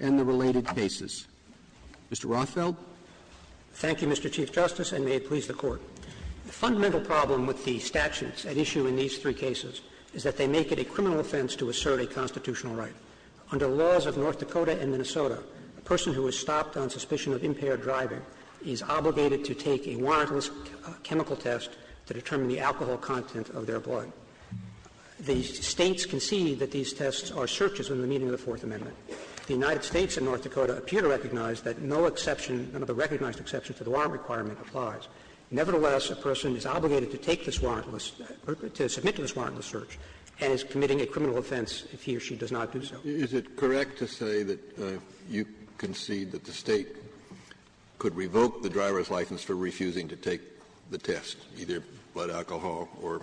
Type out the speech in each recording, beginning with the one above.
and the related cases. Mr. Rothfeld? Thank you, Mr. Chief Justice, and may it please the Court. The fundamental problem with the statutes at issue in these three cases is that they make it a criminal offense to assert a constitutional right. Under laws of North Dakota and Minnesota, a person who is stopped on suspicion of impaired driving is obligated to take a warrantless chemical test to determine the alcohol content of their blood. The states concede that these tests are searches in the meaning of the Fourth Amendment. The United States and North Dakota appear to recognize that no exception, none of the recognized exceptions to the warrant requirement, applies. Nevertheless, a person is obligated to take this warrantless, to submit to this warrantless search, and is committing a criminal offense if he or she does not do so. Is it correct to say that you concede that the state could revoke the test, either blood alcohol or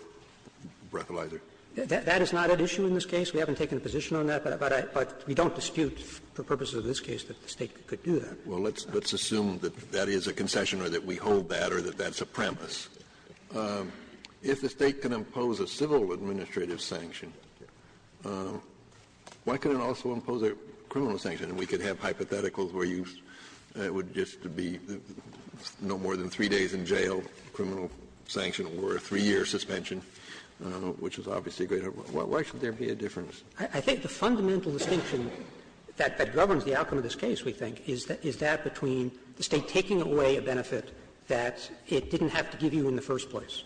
breathalyzer? That is not at issue in this case. We haven't taken a position on that, but we don't dispute, for purposes of this case, that the state could do that. Well, let's assume that that is a concession, or that we hold that, or that that's a premise. If the state can impose a civil administrative sanction, why can it also impose a criminal sanction? And we could have hypotheticals where it would just be no more than three days in jail, criminal sanction, or a three-year suspension, which is obviously a great help. Why should there be a difference? I think the fundamental distinction that governs the outcome of this case, we think, is that between the state taking away a benefit that it didn't have to give you in the first place,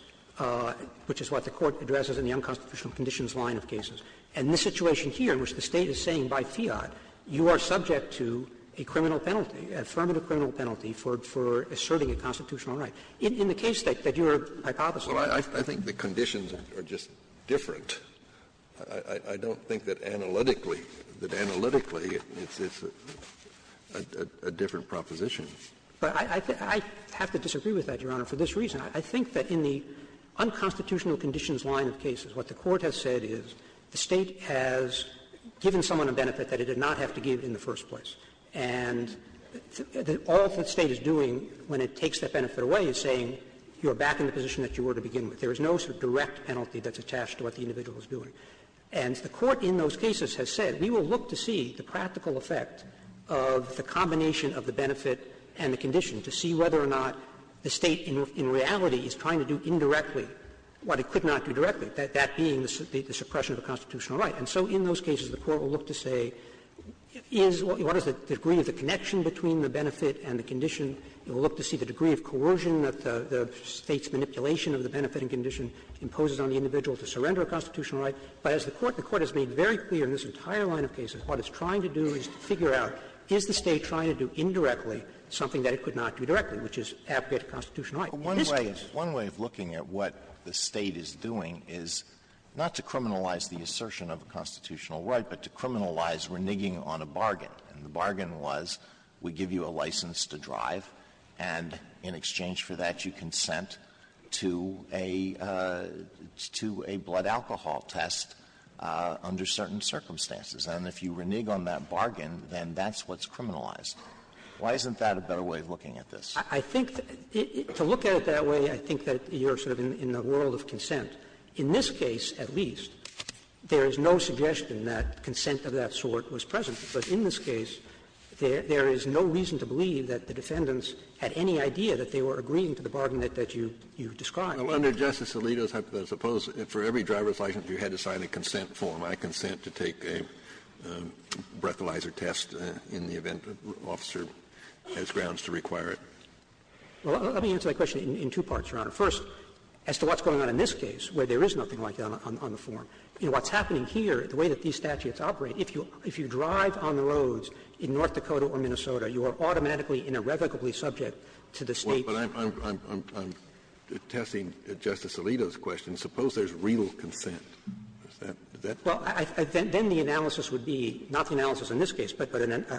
which is what the Court addresses in the unconstitutional conditions line of cases, and this situation here in which the state is saying by fiat, you are subject to a criminal penalty, a affirmative criminal penalty, for asserting a constitutional right. In the case that you are hypothesizing about. Well, I think the conditions are just different. I don't think that analytically it's a different proposition. I have to disagree with that, Your Honor, for this reason. I think that in the unconstitutional conditions line of cases, what the Court has said is the state has given someone a benefit that it did not have to give in the first place, and all that the state is doing when it takes that benefit away is saying you are back in the position that you were to begin with. There is no direct penalty that's attached to what the individual is doing. And the Court in those cases has said we will look to see the practical effect of the combination of the benefit and the condition to see whether or not the state in reality is trying to do indirectly what it could not do directly, that being the suppression of a constitutional right. And so in those cases the Court will look to see what is the degree of the connection between the benefit and the condition. It will look to see the degree of coercion that the state's manipulation of the benefit and condition imposes on the individual to surrender a constitutional right. But as the Court has made very clear in this entire line of cases, what it's trying to do is figure out is the state trying to do indirectly something that it could not do directly, which is have a constitutional right. One way of looking at what the state is doing is not to criminalize the assertion of a benefit, but to criminalize reneging on a bargain. The bargain was we give you a license to drive, and in exchange for that you consent to a blood alcohol test under certain circumstances. And if you renege on that bargain, then that's what's criminalized. Why isn't that a better way of looking at this? I think to look at it that way, I think that you're sort of in the world of consent. In this case, at least, there is no suggestion that consent of that sort was present. But in this case, there is no reason to believe that the defendants had any idea that they were agreeing to the bargain that you described. Well, under Justice Alito, suppose for every driver's license you had to sign a consent form. I consent to take a breathalyzer test in the event that an officer has grounds to require it. Well, let me answer that question in two parts, Your Honor. First, as to what's going on in this case, where there is nothing like that on the form, you know, what's happening here, the way that these statutes operate, if you drive on the roads in North Dakota or Minnesota, you are automatically and irrevocably subject to the State's — Well, but I'm testing Justice Alito's question. Suppose there's real consent. Is that — Well, then the analysis would be, not the analysis in this case, but a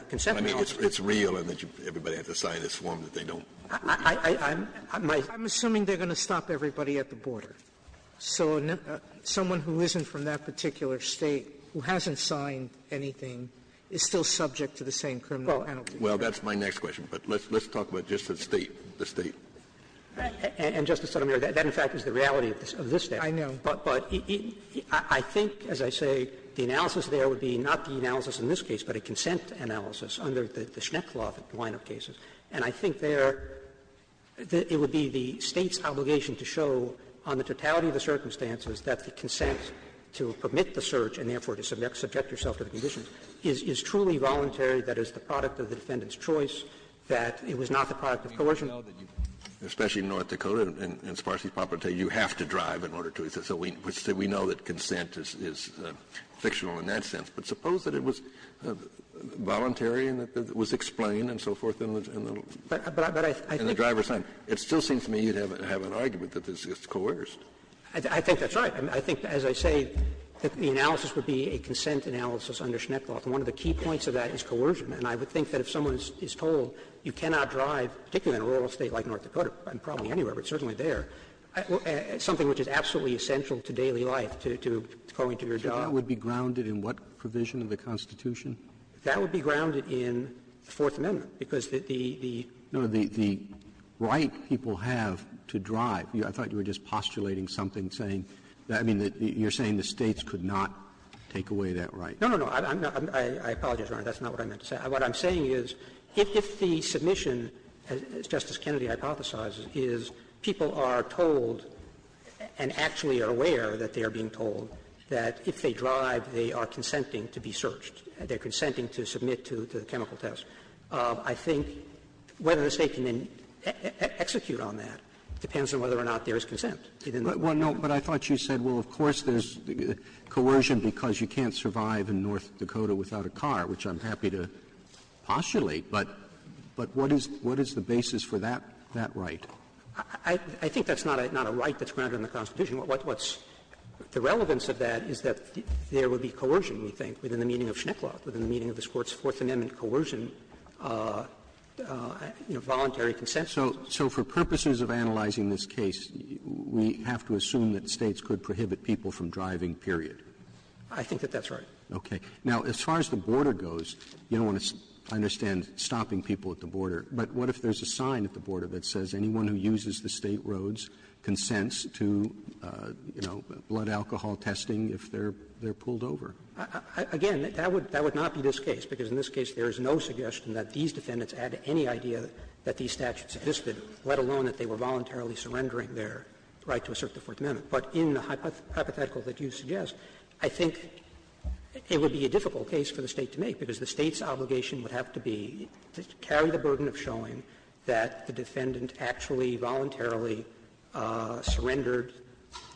consent form. I mean, if it's real, everybody has to sign this form that they don't — I'm assuming they're going to stop everybody at the border. So someone who isn't from that particular State, who hasn't signed anything, is still subject to the same criminal — Well, that's my next question. But let's talk about just the State. And, Justice Sotomayor, that, in fact, is the reality of this case. I know. But I think, as I say, the analysis there would be not the analysis in this case, but a consent analysis under the Schneck law line of cases. And I think there — it would be the State's obligation to show, on the totality of the circumstances, that the consent to permit the search and, therefore, to subject yourself to the conditions, is truly voluntary, that it's the product of the defendant's choice, that it was not the product of coercion. Especially in North Dakota, and as far as he's properly saying, you have to drive in order to — so we know that consent is fictional in that sense. But suppose that it was voluntary and that it was explained and so forth, and the driver signed. It still seems to me you'd have an argument that this is coerced. I think that's right. I think, as I say, that the analysis would be a consent analysis under Schneck law. And one of the key points of that is coercion. And I would think that if someone is told you cannot drive, particularly in a rural state like North Dakota, and probably anywhere, but certainly there, something which is absolutely essential to daily life, to calling to your job — So that would be grounded in what provision of the Constitution? That would be grounded in the Fourth Amendment, because the — No, the right people have to drive. I thought you were just postulating something, saying — I mean, you're saying the states could not take away that right. No, no, no. I apologize, Your Honor. That's not what I meant to say. What I'm saying is if the submission, as Justice Kennedy hypothesizes, is people are told and actually are aware that they are being told that if they drive, they are consenting to be searched, they're consenting to submit to the chemical test. I think whether the state can then execute on that depends on whether or not there is consent. Well, no, but I thought you said, well, of course there's coercion because you can't survive in North Dakota without a car, which I'm happy to postulate. But what is the basis for that right? I think that's not a right that's grounded in the Constitution. What's — the relevance of that is that there would be coercion, we think, within the meaning of voluntary consent. So for purposes of analyzing this case, we have to assume that states could prohibit people from driving, period? I think that that's right. Okay. Now, as far as the border goes, you don't want to understand stopping people at the border. But what if there's a sign at the border that says anyone who uses the state roads consents to, you know, blood alcohol testing if they're pulled over? Again, that would not be this case because in this case there is no suggestion that these defendants had any idea that these statutes existed, let alone that they were voluntarily surrendering their right to assert the Fourth Amendment. But in the hypothetical that you suggest, I think it would be a difficult case for the State to make because the State's obligation would have to be to carry the burden of showing that the defendant actually voluntarily surrendered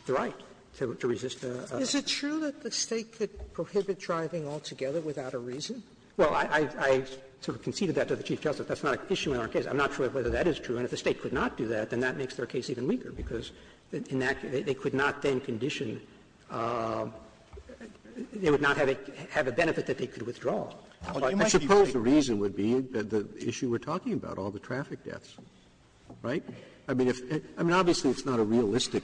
the right to resist a — Is it true that the State could prohibit driving altogether without a reason? Well, I sort of conceded that to the Chief Justice. That's not an issue in our case. I'm not sure whether that is true. And if the State could not do that, then that makes our case even weaker because in that they could not then condition — they would not have a benefit that they could withdraw. I suppose the reason would be that the issue we're talking about, all the traffic deaths. Right? I mean, obviously it's not a realistic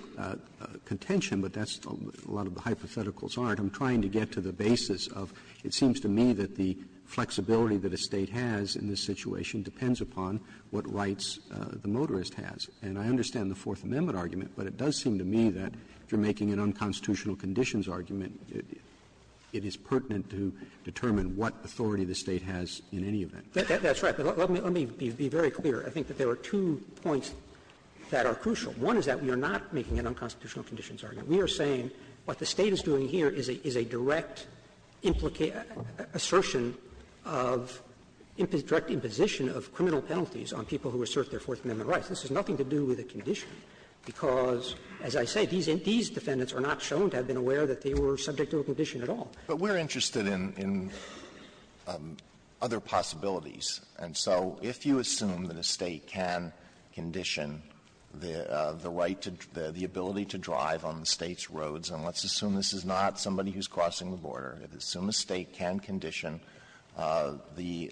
contention, but that's — a lot of the hypotheticals aren't. I'm trying to get to the basis of it seems to me that the flexibility that a State has in this situation depends upon what rights the motorist has. And I understand the Fourth Amendment argument, but it does seem to me that you're making an unconstitutional conditions argument. It is pertinent to determine what authority the State has in any event. That's right. But let me be very clear. I think that there are two points that are crucial. One is that we are not making an unconstitutional conditions argument. We are saying what the State is doing here is a direct assertion of — direct imposition of criminal penalties on people who assert their Fourth Amendment rights. This has nothing to do with a condition because, as I say, these defendants are not shown to have been aware that they were subject to a condition at all. But we're interested in other possibilities. And so if you assume that a State can condition the right to — the ability to drive on the State's roads — and let's assume this is not somebody who's crossing the border. Assume the State can condition the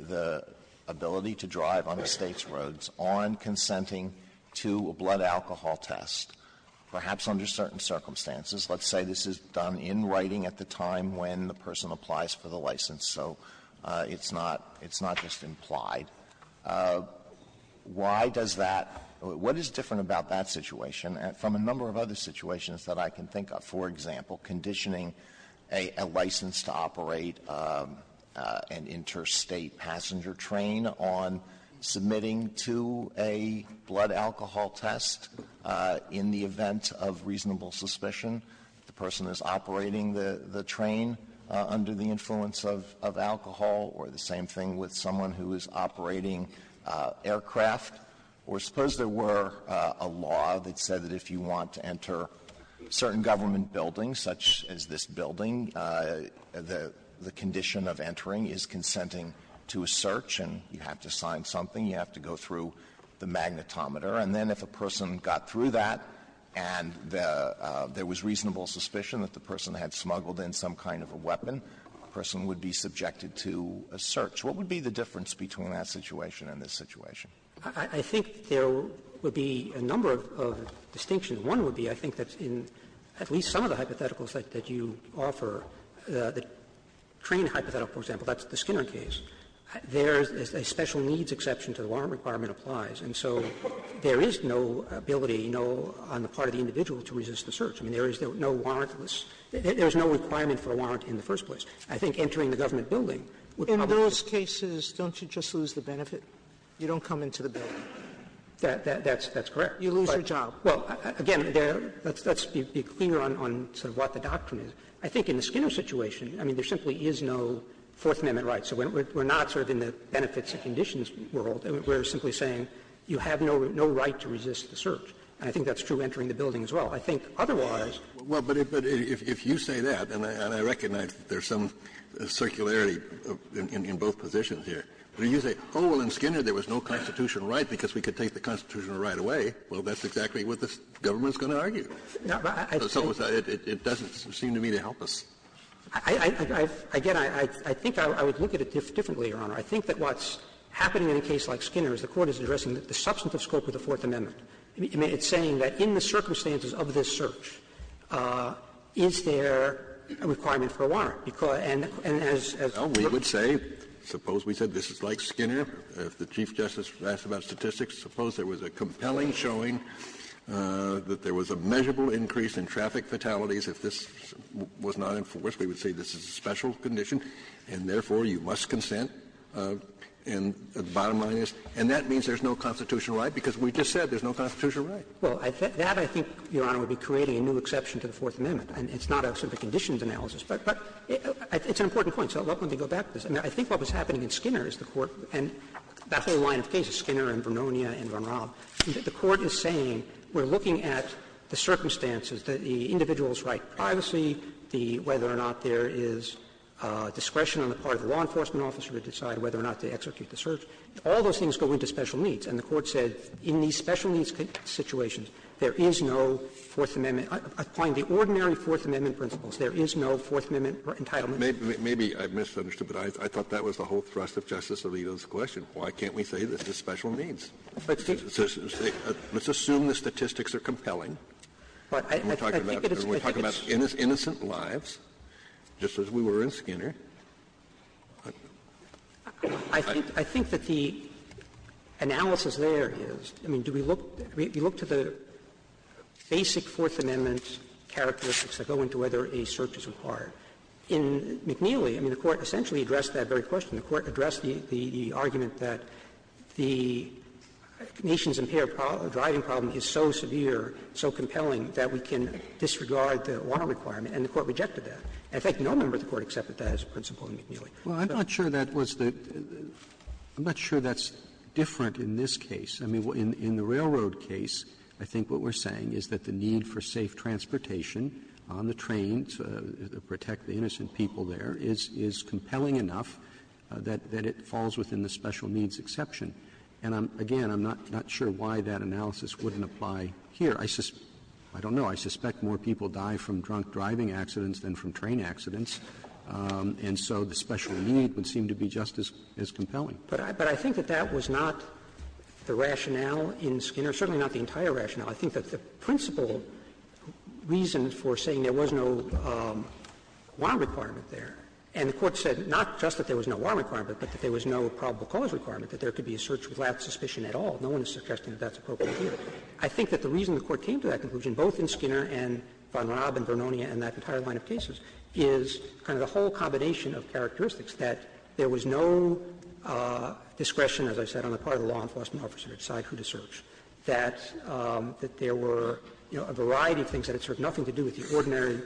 ability to drive on the State's roads on consenting to a blood alcohol test, perhaps under certain circumstances. Let's say this is done in writing at the time when the person applies for the license. So it's not just implied. Why does that — what is different about that situation from a number of other situations that I can think of? For example, conditioning a license to operate an interstate passenger train on submitting to a blood alcohol test in the event of reasonable suspicion, if the person is operating the train under the influence of alcohol, or the same thing with someone who is operating aircraft. Or suppose there were a law that said that if you want to enter certain government buildings, such as this building, the condition of entering is consenting to a search, and you have to go through the magnetometer. And then if a person got through that and there was reasonable suspicion that the person had smuggled in some kind of a weapon, the person would be subjected to a search. What would be the difference between that situation and this situation? I think there would be a number of distinctions. One would be I think that in at least some of the hypotheticals that you offer, the train hypothetical, for example, that's the Skinner case. There's a special needs exception to the warrant requirement applies. And so there is no ability on the part of the individual to resist the search. I mean, there is no warrantless — there's no requirement for a warrant in the first place. I think entering the government building would probably — In those cases, don't you just lose the benefit? You don't come into the building. That's correct. You lose your job. Well, again, let's be clear on sort of what the doctrine is. I think in the Skinner situation, I mean, there simply is no Fourth Amendment right. So we're not sort of in the benefits and conditions world. We're simply saying you have no right to resist the search. And I think that's true entering the building as well. I think otherwise — Well, but if you say that, and I recognize there's some circularity in both positions here, but you say, oh, well, in Skinner there was no constitutional right because we could take the constitutional right away, well, that's exactly what this government is going to argue. So it doesn't seem to me to help us. Again, I think I would look at it differently, Your Honor. I think that what's happening in a case like Skinner is the Court is addressing the substantive scope of the Fourth Amendment. I mean, it's saying that in the circumstances of this search, is there a requirement for a warrant? And as — Well, we would say, suppose we said this is like Skinner. If the Chief Justice asks about statistics, suppose there was a compelling showing that there was a measurable increase in traffic fatalities. If this was not enforced, we would say this is a special condition and, therefore, you must consent. And the bottom line is, and that means there's no constitutional right because we just said there's no constitutional right. Well, that, I think, Your Honor, would be creating a new exception to the Fourth Amendment. It's not a condition of analysis. But it's an important point. So I'd like to go back to this. I mean, I think what was happening in Skinner is the Court — and that's what we want in the circumstances, the individual's right to privacy, the — whether or not there is discretion on the part of the law enforcement officer to decide whether or not they execute the search. All those things go into special needs. And the Court said in these special needs situations, there is no Fourth Amendment — applying the ordinary Fourth Amendment principles, there is no Fourth Amendment entitlement. Maybe I misunderstood, but I thought that was the whole thrust of Justice Alito's question. Why can't we say this is special needs? Let's assume the statistics are compelling. We're talking about innocent lives, just as we were in Skinner. I think that the analysis there is, I mean, do we look to the basic Fourth Amendment characteristics that go into whether a search is required? In McNeely, I mean, the Court essentially addressed that very question. The Court addressed the argument that the nation's impaired driving problem is so severe, so compelling, that we can disregard the law requirement. And the Court rejected that. In fact, no member of the Court accepted that as a principle in McNeely. Well, I'm not sure that was the — I'm not sure that's different in this case. I mean, in the railroad case, I think what we're saying is that the need for safe transportation on the trains to protect the innocent people there is compelling enough that it falls within the special needs exception. And, again, I'm not sure why that analysis wouldn't apply here. I don't know. I suspect more people die from drunk driving accidents than from train accidents. And so the special needs would seem to be just as compelling. But I think that that was not the rationale in Skinner, certainly not the entire rationale. I think that the principle reason for saying there was no law requirement there — and the Court said not just that there was no law requirement, but that there was no probable cause requirement, that there could be a search without suspicion at all. No one is suggesting that that's appropriate here. I think that the reason the Court came to that conclusion, both in Skinner and Von Raab and Bernonia and that entire line of cases, is kind of the whole combination of characteristics, that there was no discretion, as I said, on the part of a law enforcement officer to decide who to search, that there were, you know, a variety of things that had sort of nothing to do with the ordinary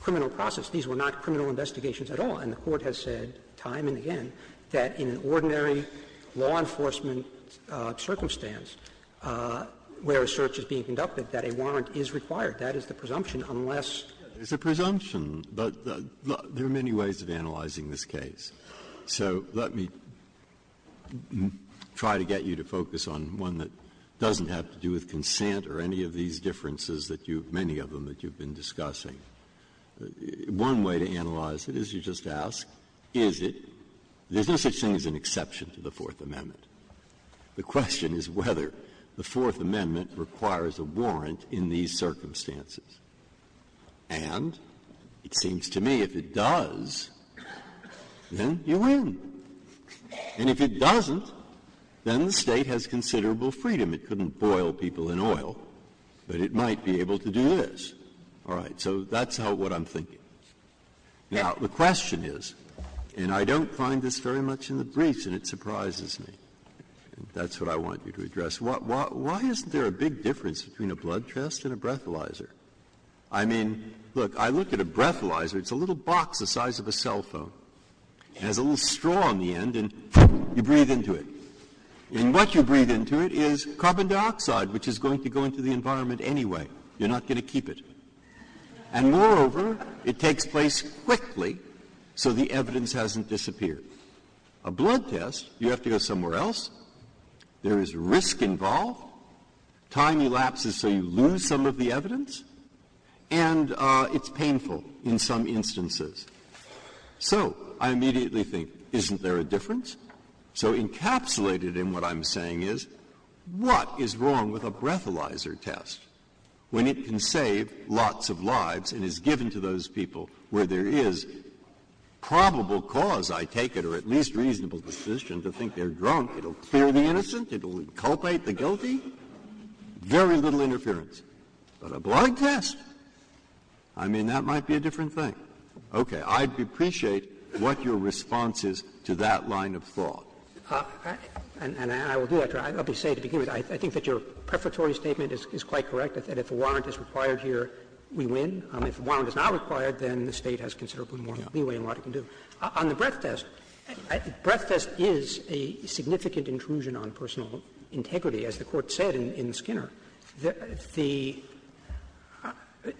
criminal process. These were not criminal investigations at all. And the Court has said time and again that in an ordinary law enforcement circumstance where a search is being conducted, that a warrant is required. That is the presumption, unless — It's a presumption, but there are many ways of analyzing this case. So let me try to get you to focus on one that doesn't have to do with consent or any of these differences that you've — many of them that you've been discussing. One way to analyze it is you just ask, is it — is this, it seems, an exception to the Fourth Amendment? The question is whether the Fourth Amendment requires a warrant in these circumstances. And it seems to me if it does, then you win. And if it doesn't, then the State has considerable freedom. It couldn't boil people in oil, but it might be able to do this. All right. So that's what I'm thinking. Now, the question is — and I don't find this very much in the briefs, and it surprises me. That's what I want you to address. Why isn't there a big difference between a blood test and a breathalyzer? I mean, look, I look at a breathalyzer, it's a little box the size of a cell phone. It has a little straw on the end, and you breathe into it. And what you breathe into it is carbon dioxide, which is going to go into the environment anyway. You're not going to keep it. And moreover, it takes place quickly, so the evidence hasn't disappeared. A blood test, you have to go somewhere else. There is risk involved. Time elapses, so you lose some of the evidence. And it's painful in some instances. So I immediately think, isn't there a difference? So encapsulated in what I'm saying is, what is wrong with a breathalyzer test when it can save lots of lives and is given to those people where there is probable cause, I take it, or at least reasonable position to think they're drunk? It'll cure the innocent? It'll inculpate the guilty? Very little interference. But a blood test? I mean, that might be a different thing. OK, I'd appreciate what your response is to that line of thought. And I will do that. I'll just say to begin with, I think that your preparatory statement is quite correct, that if a warrant is required here, we win. If a warrant is not required, then the state has considerably more leeway in what it can do. On the breath test, breath test is a significant intrusion on personal integrity, as the court said in Skinner.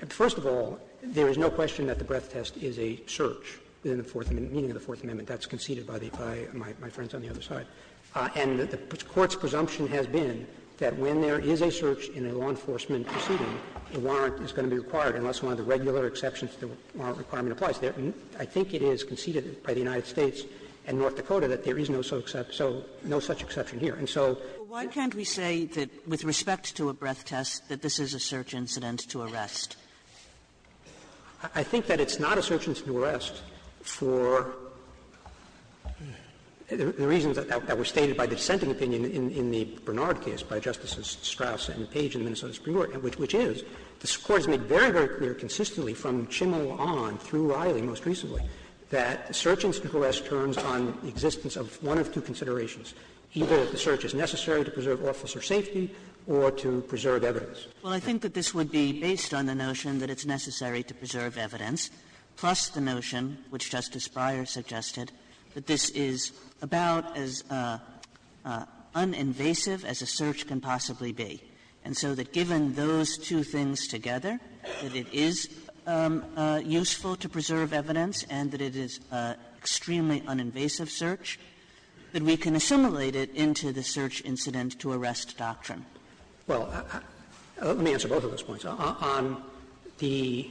First of all, there is no question that the breath test is a search in the Fourth Amendment, meaning the Fourth Amendment. That's conceded by my friends on the other side. And the Court's presumption has been that when there is a search in a law enforcement proceeding, a warrant is going to be required unless one of the regular exceptions to the warrant requirement applies. I think it is conceded by the United States and North Dakota that there is no such exception here. And so why can't we say that with respect to a breath test, that this is a search incident to arrest? I think that it's not a search incident to arrest for the reasons that were stated by dissenting opinion in the Bernard case by Justices Strauss and Page in the Minnesota Supreme Court, which is, this Court has made very, very clear consistently from Chimel on through Riley most recently, that search incident to arrest turns on the existence of one of two considerations. Either the search is necessary to preserve officer safety or to preserve evidence. Well, I think that this would be based on the notion that it's necessary to preserve evidence, plus the notion, which Justice Breyer suggested, that this is about as uninvasive as a search can possibly be. And so that given those two things together, that it is useful to preserve evidence and that it is an extremely uninvasive search, that we can assimilate it into the search incident to arrest doctrine. Well, let me answer both of those points. On the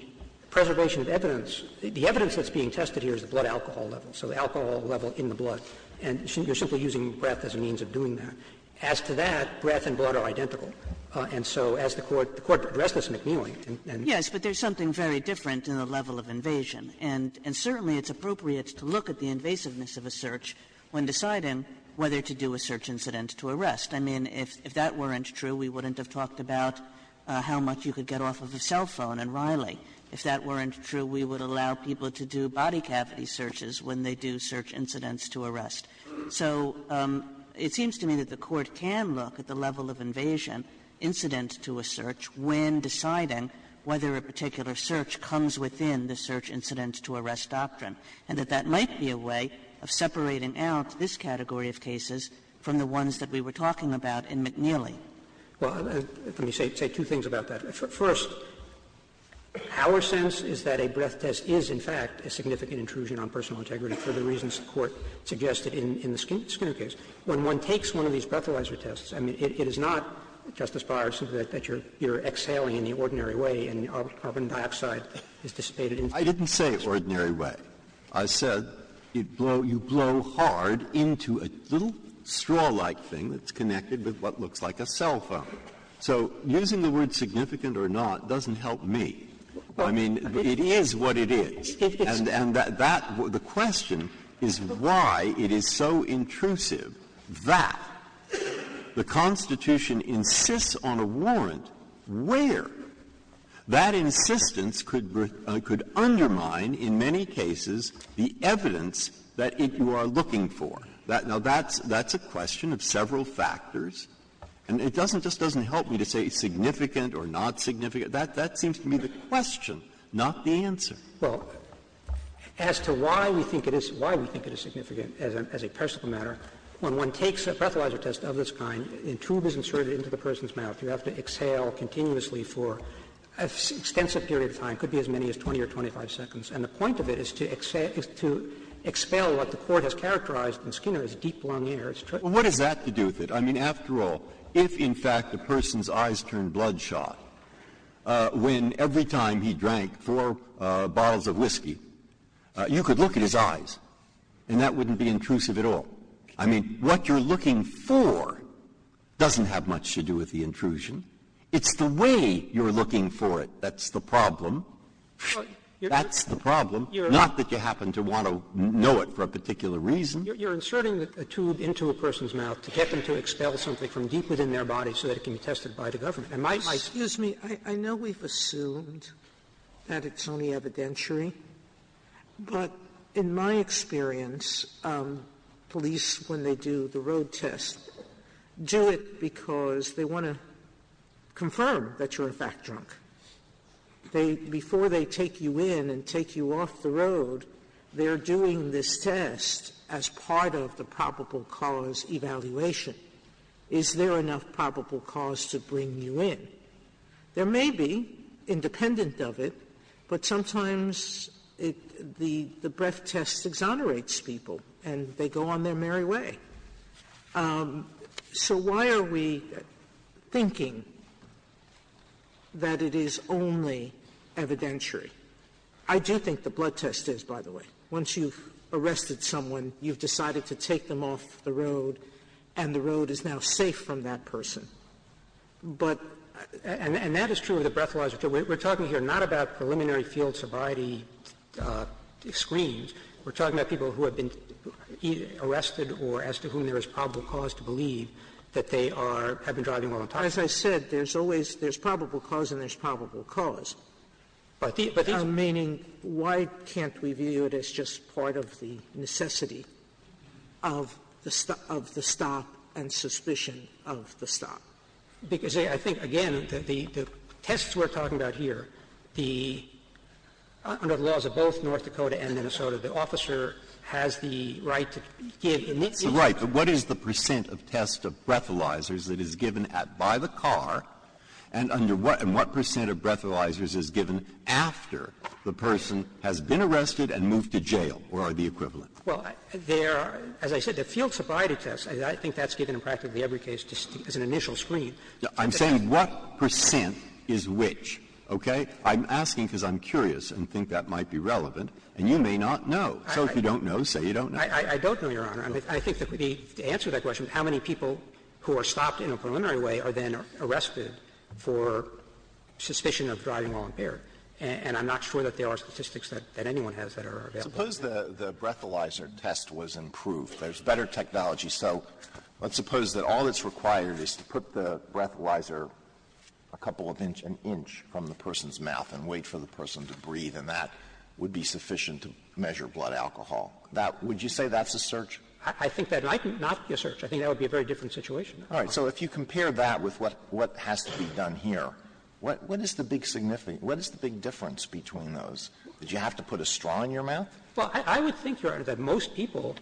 preservation of evidence, the evidence that's being tested here is the blood alcohol level, so the alcohol level in the blood. And you're simply using breath as a means of doing that. As to that, breath and blood are identical. And so as the Court addressed this in McNeely and — Yes, but there's something very different in the level of invasion. And certainly it's appropriate to look at the invasiveness of a search when deciding whether to do a search incident to arrest. I mean, if that weren't true, we wouldn't have talked about how much you could get off of a cell phone in Riley. If that weren't true, we would allow people to do body cavity searches when they do search incidents to arrest. So it seems to me that the Court can look at the level of invasion, incidents to a search, when deciding whether a particular search comes within the search incidents to arrest doctrine, and that that might be a way of separating out this category of cases from the ones that we were talking about in McNeely. Well, let me say two things about that. First, our sense is that a breath test is, in fact, a significant intrusion on personal integrity for the reasons the Court suggested in the Skinner case. When one takes one of these breathalyzer tests, I mean, it is not, Justice Breyer, that you're exhaling in the ordinary way, and the carbon dioxide is dissipated. I didn't say ordinary way. I said you blow hard into a little straw-like thing that's connected with what looks like a cell phone. So using the word significant or not doesn't help me. I mean, it is what it is. And the question is why it is so intrusive that the Constitution insists on a warrant where that insistence could undermine, in many cases, the evidence that you are looking for. Now, that's a question of several factors. And it just doesn't help me to say significant or not significant. That seems to me the question, not the answer. Well, as to why we think it is significant as a personal matter, when one takes a breathalyzer test of this kind, a tube is inserted into the person's mouth. You have to exhale continuously for an extensive period of time. It could be as many as 20 or 25 seconds. And the point of it is to expel what the Court has characterized in Skinner as deep, long air. What does that have to do with it? I mean, after all, if, in fact, the person's eyes turned bloodshot, when every time he had a couple of bottles of whiskey, you could look at his eyes. And that wouldn't be intrusive at all. I mean, what you're looking for doesn't have much to do with the intrusion. It's the way you're looking for it that's the problem. That's the problem. Not that you happen to want to know it for a particular reason. You're inserting a tube into a person's mouth to get them to expel something from deep within their body so that it can be tested by the government. Excuse me. I know we've assumed that it's only evidentiary. But in my experience, police, when they do the road test, do it because they want to confirm that you're, in fact, drunk. Before they take you in and take you off the road, they're doing this test as part of the probable cause evaluation. Is there enough probable cause to bring you in? There may be, independent of it, but sometimes the breath test exonerates people and they go on their merry way. So why are we thinking that it is only evidentiary? I do think the blood test is, by the way. Once you've arrested someone, you've decided to take them off the road, and the road is now safe from that person. And that is true of the breath test. We're talking here not about preliminary field sobriety screens. We're talking about people who have been arrested or as to whom there is probable cause to believe that they have been driving while on top. As I said, there's probable cause and there's probable cause. But I'm meaning, why can't we view it as just part of the necessity of the stop and suspicion of the stop? Because I think, again, that the tests we're talking about here, under the laws of both North Dakota and Minnesota, the officer has the right to give... Right, but what is the percent of tests of breathalyzers that is given by the car, and what percent of breathalyzers is given after the person has been arrested and moved to jail, or are the equivalent? Well, there are, as I said, the field sobriety tests, and I think that's given in practically every case as an initial screen. I'm saying what percent is which, okay? I'm asking because I'm curious and think that might be relevant, and you may not know. So if you don't know, say you don't know. I don't know, Your Honor. I think that the answer to that question, how many people who are stopped in a preliminary way are then arrested for suspicion of driving while impaired? And I'm not sure that there are statistics that anyone has that are available. Suppose the breathalyzer test was improved. There's better technology. So let's suppose that all that's required is to put the breathalyzer a couple of inches, an inch from the person's mouth and wait for the person to breathe, and that would be sufficient to measure blood alcohol. Would you say that's a search? I think that might not be a search. I think that would be a very different situation. All right, so if you compare that with what has to be done here, what is the big difference between those? Did you have to put a straw in your mouth? Well, I would think, Your Honor, that most people,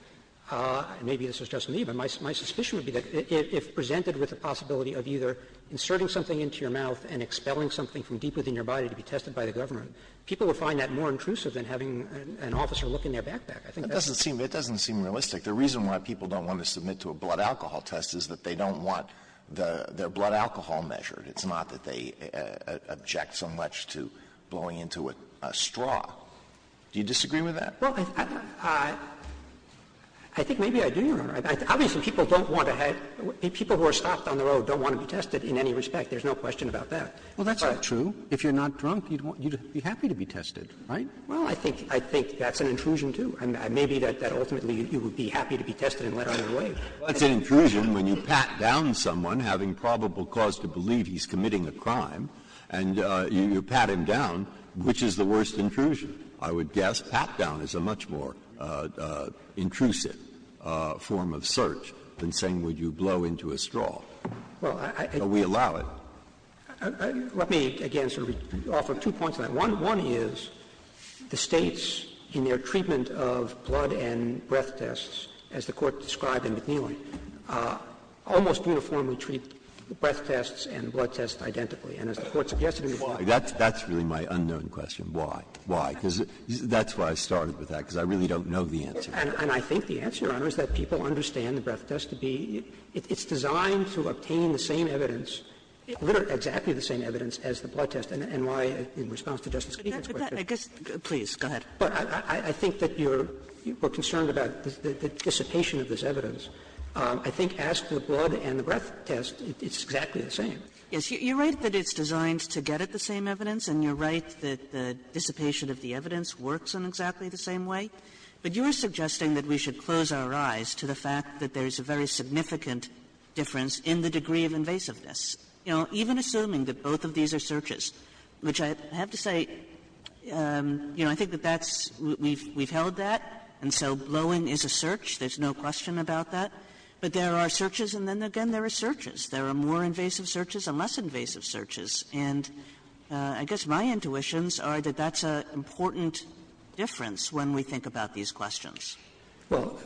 and maybe this is just me, but my suspicion would be that if presented with the possibility of either inserting something into your mouth and expelling something from deep within your body to be tested by the government, people would find that more intrusive than having an officer look in their backpack. It doesn't seem realistic. The reason why people don't want to submit to a blood alcohol test is that they don't want their blood alcohol measured. It's not that they object so much to blowing into a straw. Do you disagree with that? Well, I think maybe I do, Your Honor. Obviously, people who are stopped on the road don't want to be tested in any respect. There's no question about that. Well, that's not true. If you're not drunk, you'd be happy to be tested, right? Well, I think that's an intrusion, too. Maybe that ultimately you would be happy to be tested and let on your way. Well, that's an intrusion when you pat down someone having probable cause to believe he's committing a crime, and you pat him down. Which is the worst intrusion? I would guess pat down is a much more intrusive form of search than saying would you blow into a straw. But we allow it. Let me, again, sort of offer two points on that. One is the States, in their treatment of blood and breath tests, as the Court described in McNeely, almost uniformly treat the breath tests and the blood tests identically. And as the Court suggested in McNeely. That's really my unknown question. Why? Why? Because that's why I started with that, because I really don't know the answer. And I think the answer, Your Honor, is that people understand the breath test to be — it's designed to obtain the same evidence, literally exactly the same evidence as the blood test and why, in response to Justice Kagan's question — But that — I guess — please, go ahead. But I think that you're concerned about the dissipation of this evidence. I think as to the blood and the breath test, it's exactly the same. Yes, you're right that it's designed to get at the same evidence, and you're right that the dissipation of the evidence works in exactly the same way. But you're suggesting that we should close our eyes to the fact that there's a very significant difference in the degree of invasiveness. You know, even assuming that both of these are searches, which I have to say, you know, I think that that's — we've held that, and so glowing is a search. There's no question about that. But there are searches, and then again, there are searches. There are more invasive searches and less invasive searches. And I guess my intuitions are that that's an important difference when we think about these questions. Well,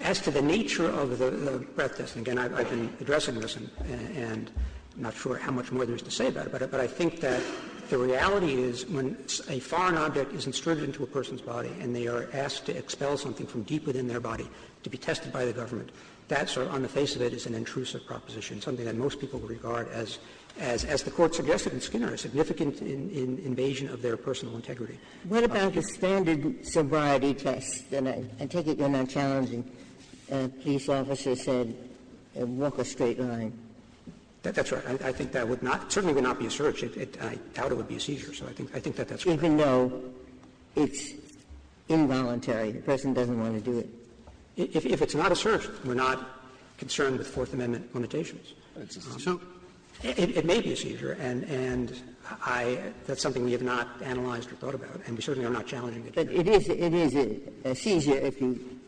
as to the nature of the breath test — and again, I've been addressing this, and I'm not sure how much more there is to say about it. But I think that the reality is when a foreign object is inserted into a person's body and they are asked to expel something from deep within their body to be tested by the government, that, sir, on the face of it, is an intrusive proposition, something that most people would regard as, as the Court suggested in Skinner, a significant invasion of their personal integrity. What about the standard sobriety test? I take it you're not challenging. Police officers said, walk a straight line. That's right. I think that would not — certainly would not be a search. And I doubt it would be a seizure. So I think that that's right. Even though it's involuntary. The person doesn't want to do it. If it's not a search, we're not concerned with Fourth Amendment limitations. So it may be a seizure. And that's something we have not analyzed or thought about. And certainly I'm not challenging it. But it is a seizure if you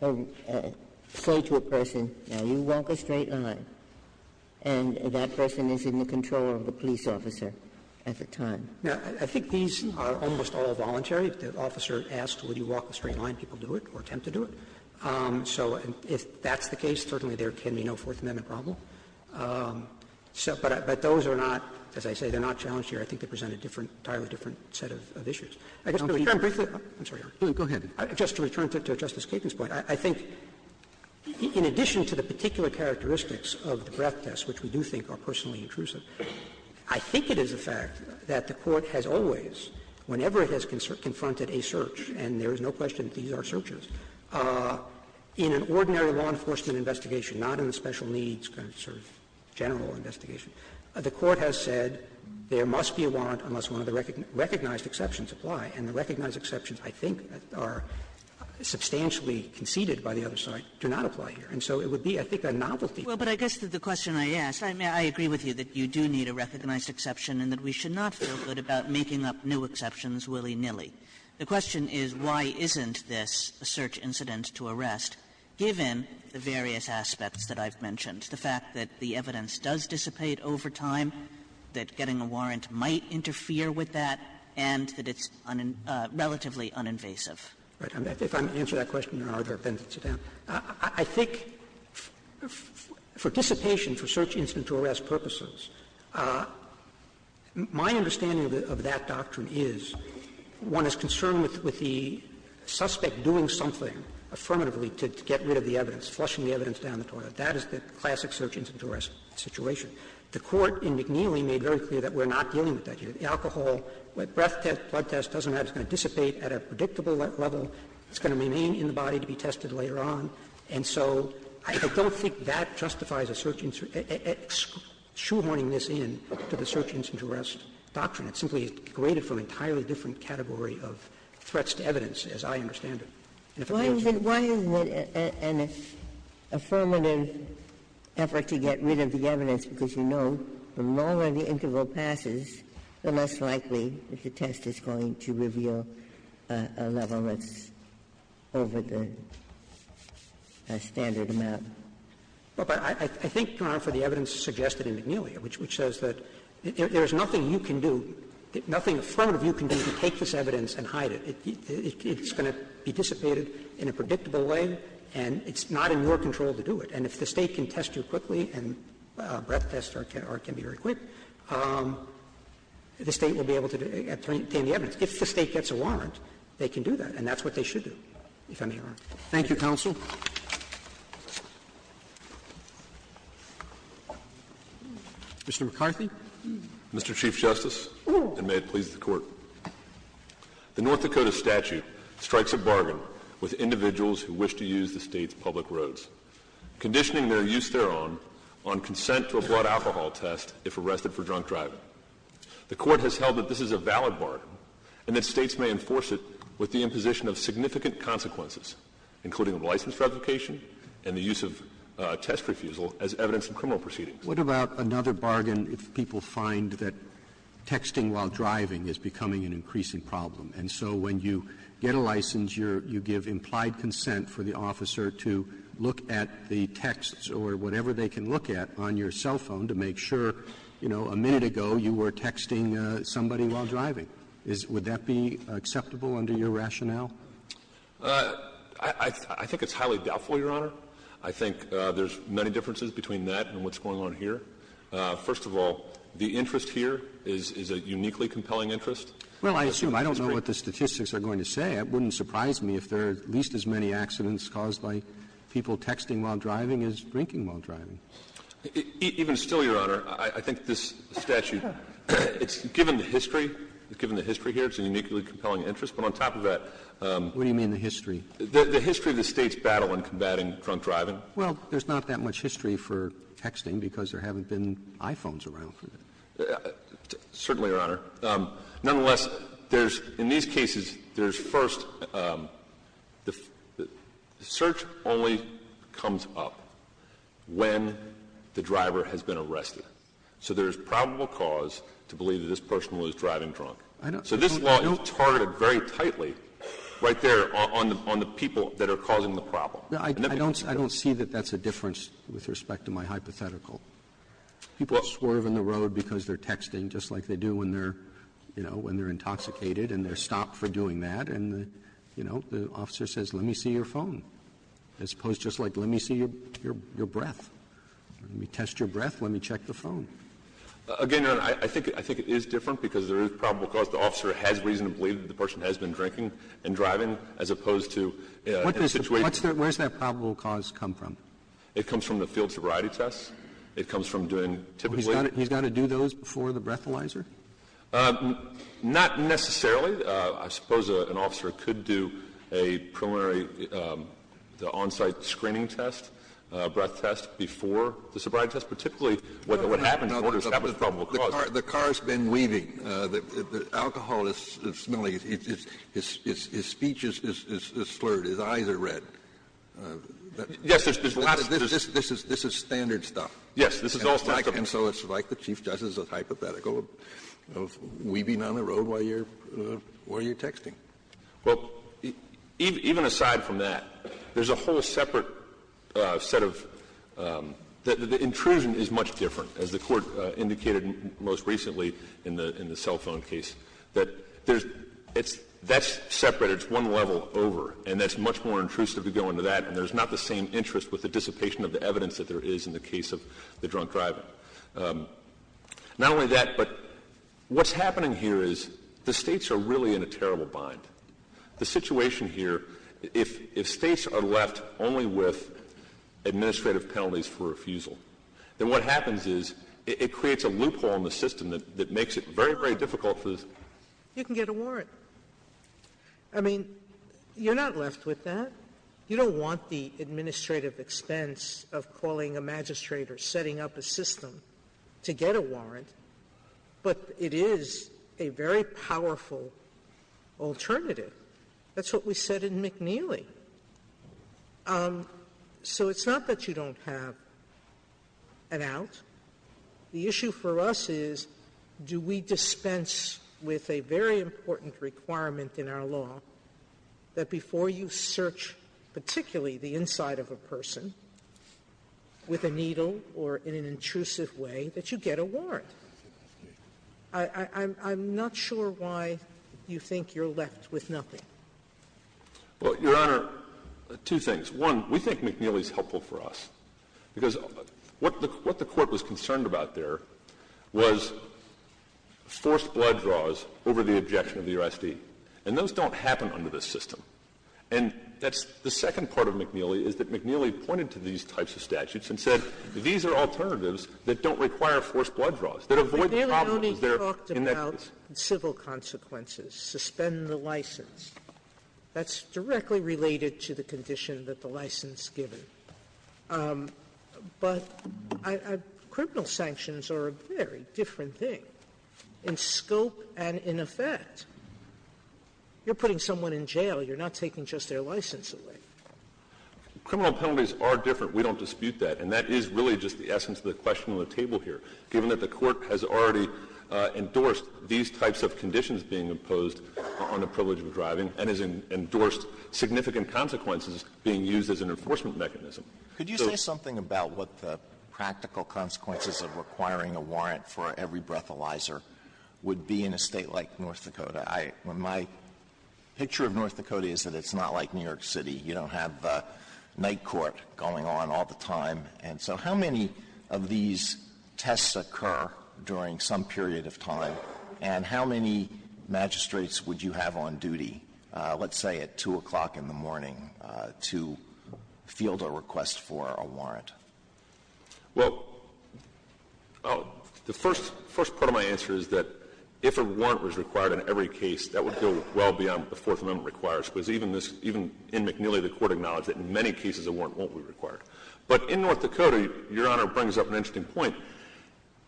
say to a person, now, you walk a straight line, and that person is in the control of the police officer at the time. Now, I think these are almost all voluntary. If the officer asks, would you walk a straight line, people do it or attempt to do it. So if that's the case, certainly there can be no Fourth Amendment problem. But those are not — as I said, they're not challenged here. I think they present a different — entirely different set of issues. I guess — Go ahead. Just to return to Justice Kagan's point, I think in addition to the particular characteristics of the breath test, which we do think are personally intrusive, I think it is a fact that the Court has always, whenever it has confronted a search — and there is no question that these are searches — in an ordinary law enforcement investigation, not in a special needs kind of sort of general investigation, the Court has said there must be a warrant unless one of the recognized exceptions apply. And the recognized exceptions, I think, that are substantially conceded by the other side do not apply here. And so it would be, I think, a novelty — Well, but I guess that the question I ask — I agree with you that you do need a recognized exception and that we should not feel good about making up new exceptions willy-nilly. The question is, why isn't this a search incident to arrest, given the various aspects that I've mentioned? The fact that the evidence does dissipate over time, that getting a warrant might interfere with that, and that it's relatively uninvasive. Right. If I'm to answer that question, Your Honor, I'd better sit down. I think for dissipation, for search incident to arrest purposes, my understanding of that doctrine is one is concerned with the suspect doing something affirmatively to get rid of the evidence, flushing the evidence down the corridor. That is the classic search incident to arrest situation. The Court in McNeely made very clear that we're not dealing with that here. The alcohol, breath test, blood test, doesn't matter. It's going to dissipate at a predictable level. It's going to remain in the body to be tested later on. And so I don't think that justifies a search — shoehorning this in to the search incident to arrest doctrine. It's simply degraded from an entirely different category of threats to evidence, as I understand it. Why isn't it an affirmative effort to get rid of the evidence? Because you know the longer the interval passes, the less likely that the test is going to reveal a level that's over the standard amount. Well, but I think, Your Honor, for the evidence suggested in McNeely, which shows that there's nothing you can do — nothing affirmative you can do to take this evidence and hide it. It's going to be dissipated in a predictable way, and it's not in your control to do it. And if the State can test you quickly, and a breath test can be very quick, the State will be able to obtain the evidence. If the State gets a warrant, they can do that, and that's what they should do. Thank you, Counsel. Mr. McCarthy? Mr. Chief Justice, and may it please the Court. The North Dakota statute strikes a bargain with individuals who wish to use the State's public roads, conditioning their use thereon on consent to a blood alcohol test if arrested for drunk driving. The Court has held that this is a valid bargain, and that States may enforce it with the imposition of significant consequences, including license revocation and the use of test refusal as evidence in criminal proceedings. What about another bargain if people find that texting while driving is becoming an increasing problem? And so when you get a license, you give implied consent for the officer to look at the text or whatever they can look at on your cell phone to make sure, you know, a minute ago you were texting somebody while driving. Would that be acceptable under your rationale? I think it's highly doubtful, Your Honor. I think there's many differences between that and what's going on here. First of all, the interest here is a uniquely compelling interest. Well, I assume. I don't know what the statistics are going to say. It wouldn't surprise me if there are at least as many accidents caused by people texting while driving as drinking while driving. Even still, Your Honor, I think this statute, given the history here, it's a uniquely compelling interest. But on top of that... What do you mean, the history? The history of the state's battle in combating drunk driving. Well, there's not that much history for texting because there haven't been iPhones around. Certainly, Your Honor. Nonetheless, there's, in these cases, there's first, the search only comes up when the driver has been arrested. So there's probable cause to believe that this person was driving drunk. So this law is targeted very tightly right there on the people that are causing the problem. I don't see that that's a difference with respect to my hypothetical. People swerve in the road because they're texting, just like they do when they're intoxicated and they're stopped for doing that. And the officer says, let me see your phone. As opposed to just like, let me see your breath. Let me test your breath. Let me check the phone. Again, Your Honor, I think it is different because there is probable cause. The officer has reason to believe that the person has been drinking and driving as opposed to... Where does that probable cause come from? It comes from the field sobriety test. It comes from doing, typically... He's got to do those before the breathalyzer? Not necessarily. I suppose an officer could do a preliminary on-site screening test, breath test, before the sobriety test. But typically what happens is that was probable cause. The car has been weaving. The alcohol is smelly. His speech is slurred. His eyes are red. Yes, this is... This is standard stuff. Yes, this is all standard. And so it's like the chief judge is a hypothetical. Weaving on the road while you're texting. Well, even aside from that, there's a whole separate set of... The intrusion is much different, as the court indicated most recently in the cell phone case. That's separate. It's one level over. And that's much more intrusive to go into that. And there's not the same interest with the dissipation of the evidence that there is in the case of the drunk driver. Not only that, but what's happening here is the states are really in a terrible bind. The situation here, if states are left only with administrative penalties for refusal, then what happens is it creates a loophole in the system that makes it very, very difficult to... You can get a warrant. I mean, you're not left with that. You don't want the administrative expense of calling a magistrate or setting up a system to get a warrant, but it is a very powerful alternative. That's what we said in McNeely. So it's not that you don't have an out. The issue for us is do we dispense with a very important requirement in our law that before you search particularly the inside of a person with a needle or in an intrusive way that you get a warrant? I'm not sure why you think you're left with nothing. Well, Your Honor, two things. One, we think McNeely is helpful for us because what the court was concerned about there was forced blood draws over the objection of the U.S.D. And those don't happen under this system. And that's the second part of McNeely is that McNeely pointed to these types of statutes and said these are alternatives that don't require forced blood draws, that avoid the problems. We've already talked about civil consequences, suspend the license. That's directly related to the condition that the license is given. But criminal sanctions are a very different thing in scope and in effect. You're putting someone in jail. You're not taking just their license away. Criminal penalties are different. We don't dispute that. And that is really just the essence of the question on the table here, given that the court has already endorsed these types of conditions being imposed on the privilege of driving and has endorsed significant consequences being used as an enforcement mechanism. Could you say something about what the practical consequences of requiring a warrant for every breathalyzer would be in a state like North Dakota? My picture of North Dakota is that it's not like New York City. You don't have night court going on all the time. And so how many of these tests occur during some period of time, and how many magistrates would you have on duty, let's say at 2 o'clock in the morning, to field a request for a warrant? Well, the first part of my answer is that if a warrant was required in every case, that would go well beyond what the Fourth Amendment requires, because even in McNeely, the court acknowledged that in many cases, a warrant won't be required. But in North Dakota, Your Honor brings up an interesting point.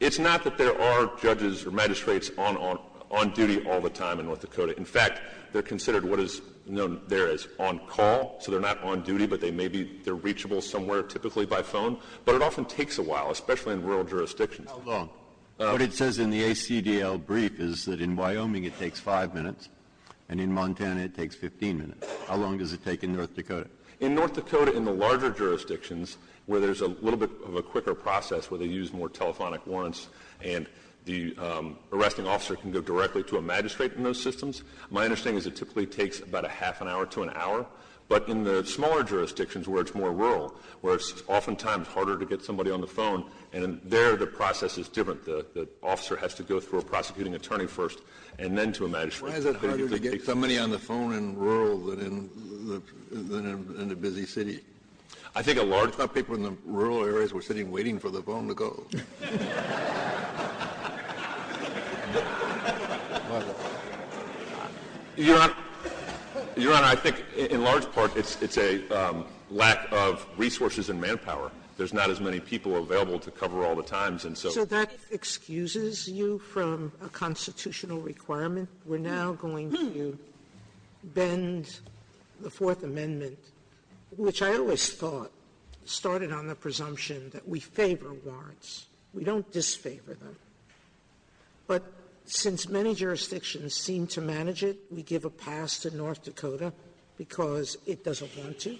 It's not that there are judges or magistrates on duty all the time in North Dakota. In fact, they're considered what is known there as on-call, so they're not on duty, but they may be reachable somewhere, typically by phone. But it often takes a while, especially in rural jurisdictions. How long? What it says in the ACDL brief is that in Wyoming it takes 5 minutes, and in Montana it takes 15 minutes. How long does it take in North Dakota? In North Dakota, in the larger jurisdictions, where there's a little bit of a quicker process where they use more telephonic warrants and the arresting officer can go directly to a magistrate in those systems, my understanding is it typically takes about a half an hour to an hour. But in the smaller jurisdictions where it's more rural, where it's oftentimes harder to get somebody on the phone, and there the process is different. The officer has to go through a prosecuting attorney first and then to a magistrate. When is it harder to get somebody on the phone in rural than in a busy city? I think a large part of the people in the rural areas were sitting waiting for the phone to go. Your Honor, I think in large part it's a lack of resources and manpower. There's not as many people available to cover all the times. So that excuses you from a constitutional requirement? Your Honor, we're now going to bend the Fourth Amendment, which I always thought started on the presumption that we favor warrants. We don't disfavor them. But since many jurisdictions seem to manage it, we give a pass to North Dakota because it doesn't want to?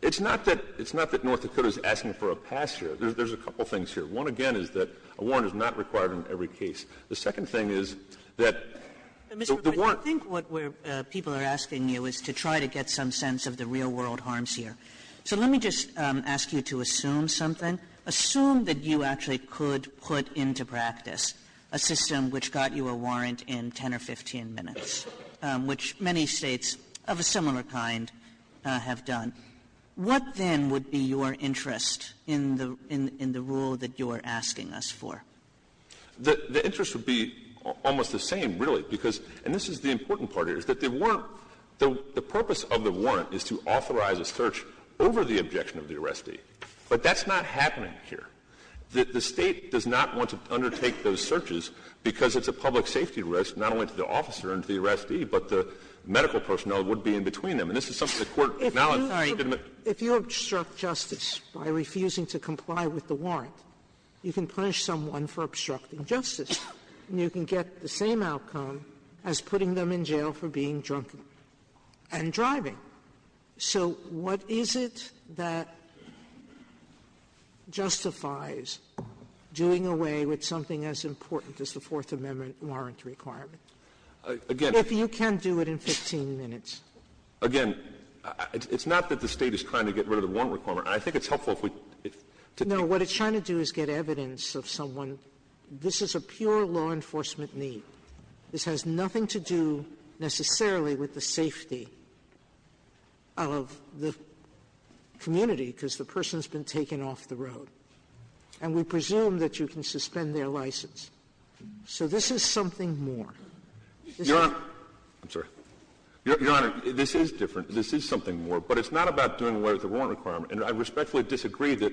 It's not that North Dakota is asking for a pass here. There's a couple things here. One, again, is that a warrant is not required in every case. The second thing is that the warrant... I think what people are asking you is to try to get some sense of the real-world harms here. So let me just ask you to assume something. Assume that you actually could put into practice a system which got you a warrant in 10 or 15 minutes, which many states of a similar kind have done. What then would be your interest in the rule that you are asking us for? The interest would be almost the same, really. And this is the important part here. The purpose of the warrant is to authorize a search over the objection of the arrestee. But that's not happening here. The state does not want to undertake those searches because it's a public safety risk, not only to the officer and to the arrestee, but the medical personnel would be in between them. And this is something the court acknowledged. If you obstruct justice by refusing to comply with the warrant, you can punish someone for obstructing justice, and you can get the same outcome as putting them in jail for being drunk and driving. So what is it that justifies doing away with something as important as the Fourth Amendment warrant requirement? Again... If you can do it in 15 minutes. Again, it's not that the state is trying to get rid of the warrant requirement. I think it's helpful if we... No, what it's trying to do is get evidence of someone. This is a pure law enforcement need. This has nothing to do necessarily with the safety of the community because the person has been taken off the road. And we presume that you can suspend their license. So this is something more. Your Honor... I'm sorry. Your Honor, this is different. This is something more. But it's not about doing away with the warrant requirement. And I respectfully disagree that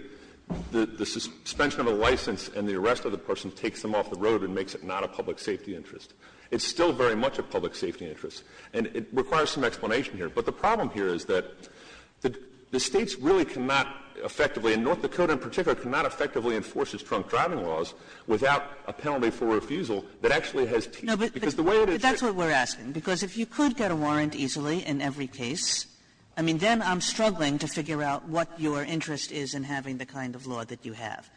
the suspension of the license and the arrest of the person takes them off the road and makes it not a public safety interest. It's still very much a public safety interest. And it requires some explanation here. But the problem here is that the states really cannot effectively, and North Dakota in particular cannot effectively enforce its drunk driving laws without a penalty for refusal that actually has teeth. That's what we're asking. Because if you could get a warrant easily in every case, then I'm struggling to figure out what your interest is in having the kind of law that you have.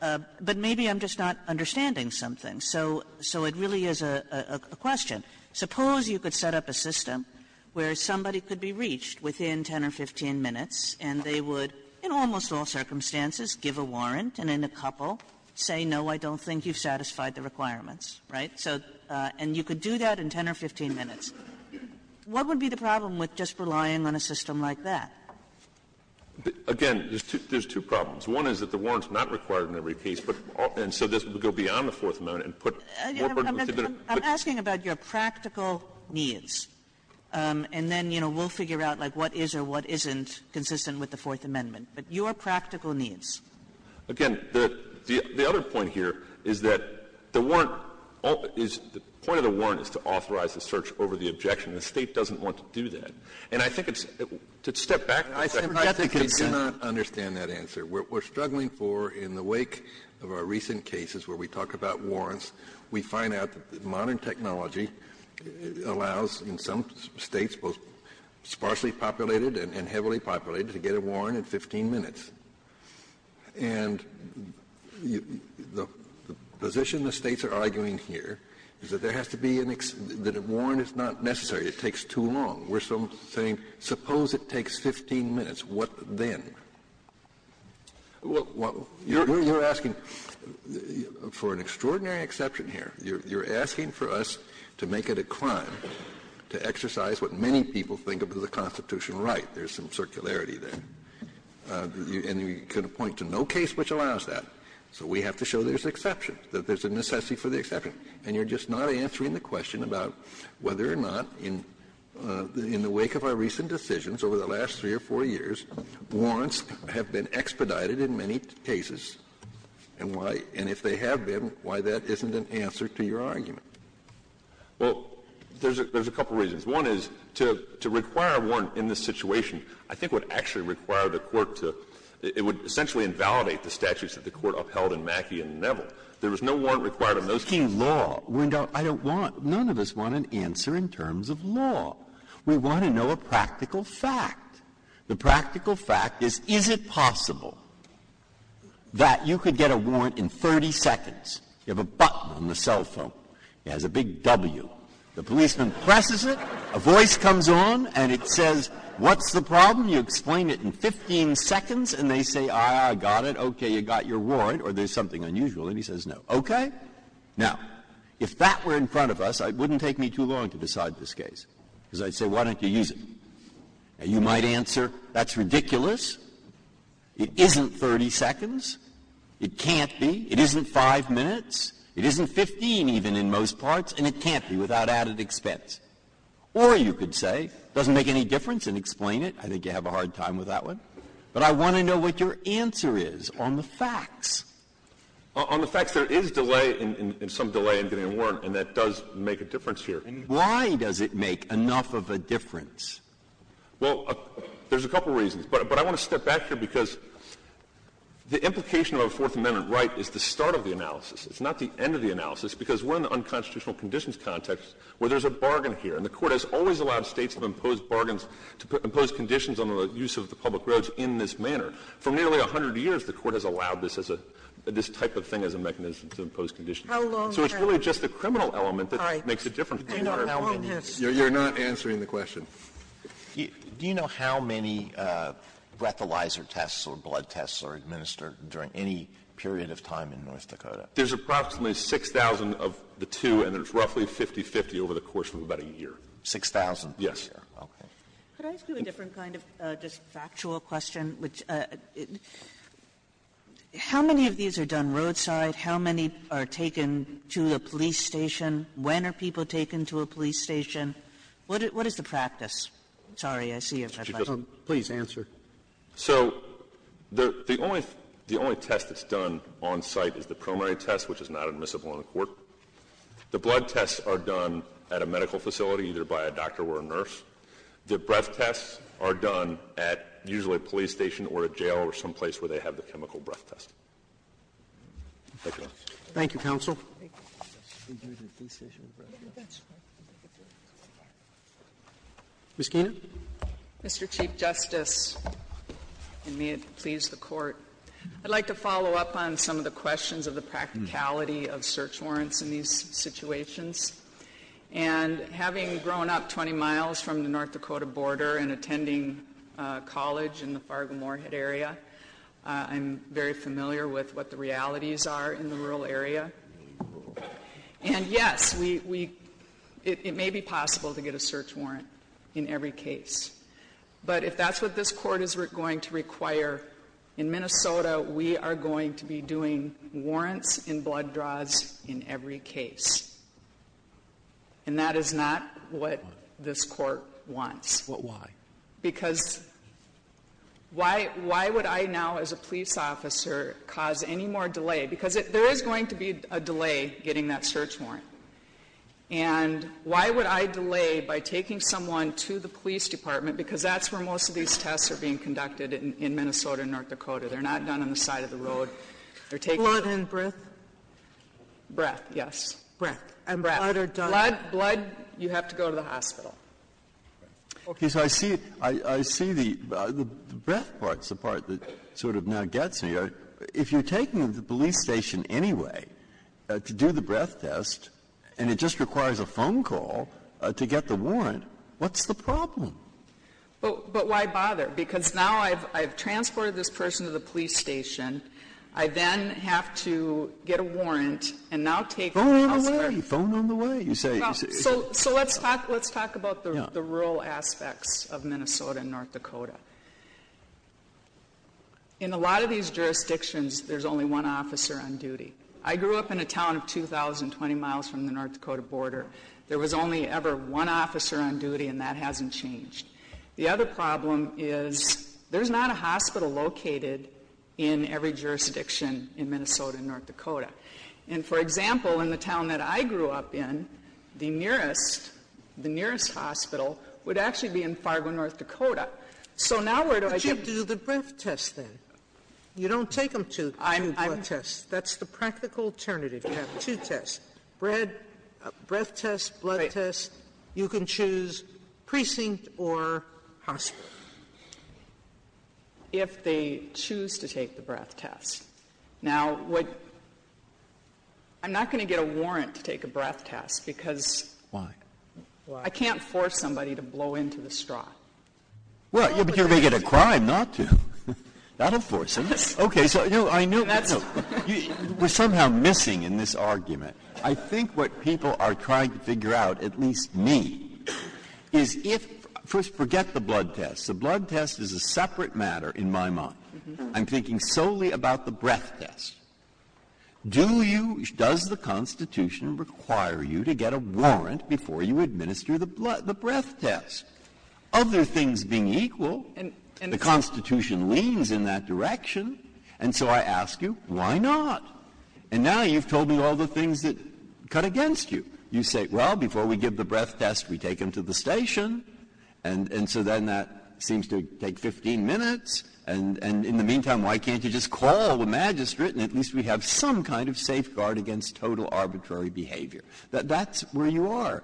But maybe I'm just not understanding something. So it really is a question. Suppose you could set up a system where somebody could be reached within 10 or 15 minutes and they would, in almost all circumstances, give a warrant, and then a couple say, no, I don't think you've satisfied the requirements. And you could do that in 10 or 15 minutes. What would be the problem with just relying on a system like that? Again, there's two problems. One is that the warrant's not required in every case, and so this would go beyond the Fourth Amendment. I'm asking about your practical needs, and then we'll figure out what is or what isn't consistent with the Fourth Amendment. But your practical needs. Again, the other point here is that the point of the warrant is to authorize the search over the objection. The state doesn't want to do that. To step back, I cannot understand that answer. We're struggling for, in the wake of our recent cases where we talk about warrants, we find out that modern technology allows in some states, both sparsely populated and heavily populated, to get a warrant in 15 minutes. And the position the states are arguing here is that a warrant is not necessary. It takes too long. We're saying, suppose it takes 15 minutes. What then? You're asking for an extraordinary exception here. You're asking for us to make a decline, to exercise what many people think of as a constitutional right. There's some circularity there. And you can point to no case which allows that. So we have to show there's an exception, that there's a necessity for the exception. And you're just not answering the question about whether or not, in the wake of our recent decisions over the last three or four years, warrants have been expedited in many cases, and if they have been, why that isn't an answer to your argument. Well, there's a couple reasons. One is, to require a warrant in this situation, I think would actually require the court to, it would essentially invalidate the statutes that the court upheld in Mackey and Neville. There was no warrant required in those cases. We're talking law. None of us want an answer in terms of law. We want to know a practical fact. The practical fact is, is it possible that you could get a warrant in 30 seconds? You have a button on the cell phone. It has a big W. The policeman presses it. A voice comes on, and it says, what's the problem? You explain it in 15 seconds. And they say, I got it. Okay, you got your warrant, or there's something unusual. And he says, no. Okay. Now, if that were in front of us, it wouldn't take me too long to decide this case. Because I'd say, why don't you use it? And you might answer, that's ridiculous. It isn't 30 seconds. It can't be. It isn't five minutes. It isn't 15, even, in most parts. And it can't be without added expense. Or you could say, it doesn't make any difference, and explain it. I think you have a hard time with that one. But I want to know what your answer is on the facts. On the facts, there is delay, some delay in getting a warrant. And that does make a difference here. Why does it make enough of a difference? Well, there's a couple reasons. But I want to step back here, because the implication of a Fourth Amendment right is the start of the analysis. It's not the end of the analysis. Because we're in the unconstitutional conditions context, where there's a bargain here. And the court has always allowed states to impose conditions on the use of the public roads in this manner. For nearly 100 years, the court has allowed this type of thing as a mechanism to impose conditions. So it's really just the criminal element that makes a difference. You're not answering the question. Do you know how many breathalyzer tests or blood tests are administered during any period of time in North Dakota? There's approximately 6,000 of the two, and there's roughly 50-50 over the course of about a year. 6,000? Yes. Okay. Could I ask you a different kind of just factual question? How many of these are done roadside? How many are taken to a police station? When are people taken to a police station? What is the practice? Sorry, I see you have a question. Please answer. So the only test that's done on site is the primary test, which is not admissible in court. The blood tests are done at a medical facility, either by a doctor or a nurse. The breath tests are done usually at a police station or a jail or someplace where they have the chemical breath test. Thank you. Thank you, counsel. Ms. Keenan? Thank you, Mr. Chief Justice, and may it please the Court. I'd like to follow up on some of the questions of the practicality of search warrants in these situations. And having grown up 20 miles from the North Dakota border and attending college in the Fargo-Moorhead area, I'm very familiar with what the realities are in the rural area. And, yes, it may be possible to get a search warrant in every case. But if that's what this Court is going to require, in Minnesota we are going to be doing warrants and blood draws in every case. And that is not what this Court wants. Why? Because why would I now, as a police officer, cause any more delay? Because there is going to be a delay getting that search warrant. And why would I delay by taking someone to the police department? Because that's where most of these tests are being conducted in Minnesota and North Dakota. They're not done on the side of the road. Blood and breath? Breath, yes. Breath. Blood, you have to go to the hospital. I see the breath part is the part that sort of now gets here. If you're taking them to the police station anyway to do the breath test, and it just requires a phone call to get the warrant, what's the problem? But why bother? Because now I've transported this person to the police station. I then have to get a warrant and now take them. Phone on the way. Phone on the way. So let's talk about the rural aspects of Minnesota and North Dakota. In a lot of these jurisdictions, there's only one officer on duty. I grew up in a town 2,020 miles from the North Dakota border. There was only ever one officer on duty, and that hasn't changed. The other problem is there's not a hospital located in every jurisdiction in Minnesota and North Dakota. And, for example, in the town that I grew up in, the nearest hospital would actually be in Fargo, North Dakota. So now where do I go? But you do the breath test then. You don't take them to the blood test. That's the practical alternative. You have two tests, breath test, blood test. You can choose precinct or hospital if they choose to take the breath test. Now, I'm not going to get a warrant to take a breath test because I can't force somebody to blow into the straw. Well, you're going to get a crime not to. That'll force them. Okay, so I know we're somehow missing in this argument. I think what people are trying to figure out, at least me, is if, first, forget the blood test. The blood test is a separate matter in my mind. I'm thinking solely about the breath test. Does the Constitution require you to get a warrant before you administer the breath test? Other things being equal, the Constitution leans in that direction. And so I ask you, why not? And now you've told me all the things that cut against you. You say, well, before we give the breath test, we take them to the station. And so then that seems to take 15 minutes. And in the meantime, why can't you just call the magistrate and at least we have some kind of safeguard against total arbitrary behavior? That's where you are.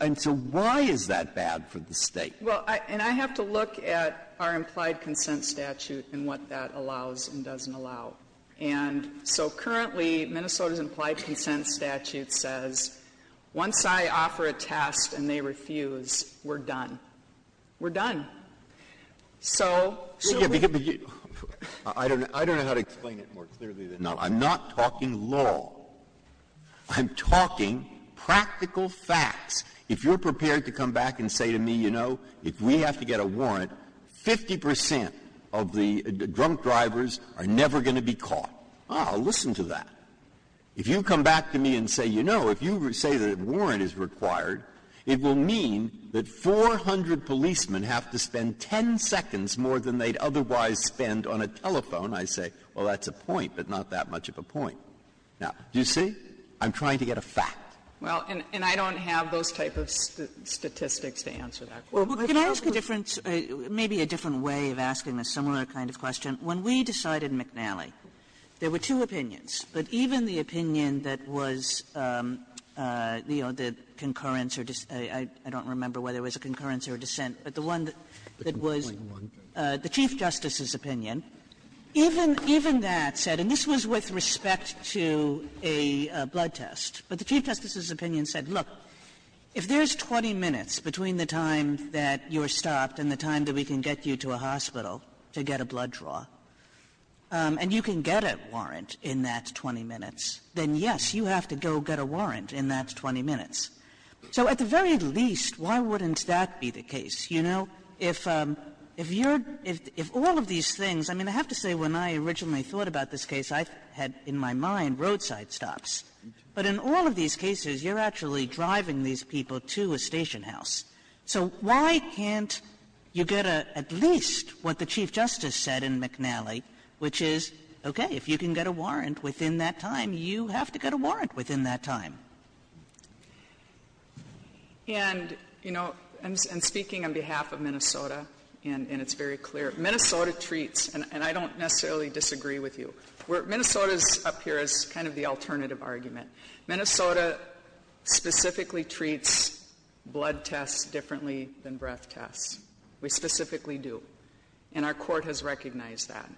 And so why is that bad for the state? And I have to look at our implied consent statute and what that allows and doesn't allow. And so currently Minnesota's implied consent statute says, once I offer a test and they refuse, we're done. We're done. I don't know how to explain it more clearly. No, I'm not talking law. I'm talking practical facts. If you're prepared to come back and say to me, you know, if we have to get a warrant, 50% of the drunk drivers are never going to be caught. I'll listen to that. If you come back to me and say, you know, if you say that a warrant is required, it will mean that 400 policemen have to spend 10 seconds more than they'd otherwise spend on a telephone. I say, well, that's a point, but not that much of a point. Now, do you see? I'm trying to get a fact. And I don't have those type of statistics to answer that. Maybe a different way of asking a similar kind of question. When we decided McNally, there were two opinions, but even the opinion that was the concurrence or I don't remember whether it was a concurrence or a dissent, but the one that was the Chief Justice's opinion, even that said, and this was with respect to a blood test, but the Chief Justice's opinion said, look, if there's 20 minutes between the time that you're stopped and the time that we can get you to a hospital to get a blood draw, and you can get a warrant in that 20 minutes, then yes, you have to go get a warrant in that 20 minutes. So at the very least, why wouldn't that be the case? You know, if all of these things, I mean, I have to say when I originally thought about this case, I had in my mind roadside stops. But in all of these cases, you're actually driving these people to a station house. So why can't you get at least what the Chief Justice said in McNally, which is, okay, if you can get a warrant within that time, you have to get a warrant within that time. And, you know, I'm speaking on behalf of Minnesota, and it's very clear. Minnesota treats, and I don't necessarily disagree with you, but Minnesota's up here is kind of the alternative argument. Minnesota specifically treats blood tests differently than breath tests. We specifically do. And our court has recognized that.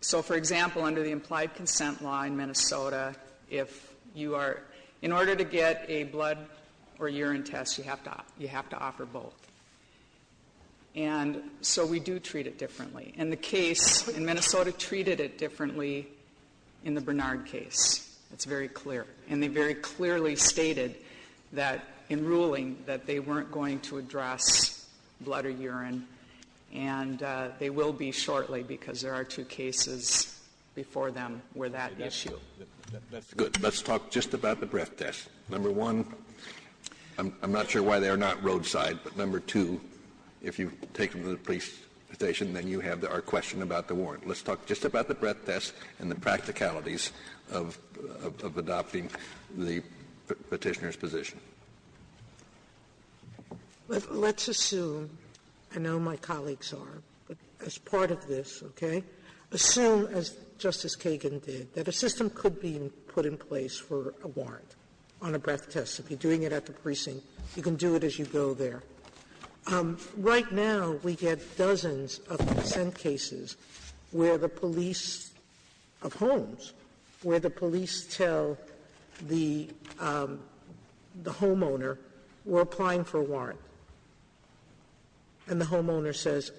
So, for example, under the implied consent law in Minnesota, if you are, in order to get a blood or urine test, you have to offer both. And so we do treat it differently. And the case in Minnesota treated it differently in the Bernard case. It's very clear. And they very clearly stated that in ruling that they weren't going to address blood or urine, and they will be shortly because there are two cases before them where that issue. That's good. Let's talk just about the breath tests. Number one, I'm not sure why they're not roadside. But number two, if you take them to the precinct station, then you have our question about the warrant. Let's talk just about the breath test and the practicalities of adopting the petitioner's position. Let's assume, I know my colleagues are, as part of this, okay, assume, as Justice Kagan did, that a system could be put in place for a warrant on a breath test. If you're doing it at the precinct, you can do it as you go there. Right now, we get dozens of consent cases of homes where the police tell the homeowner, we're applying for a warrant. And the homeowner says,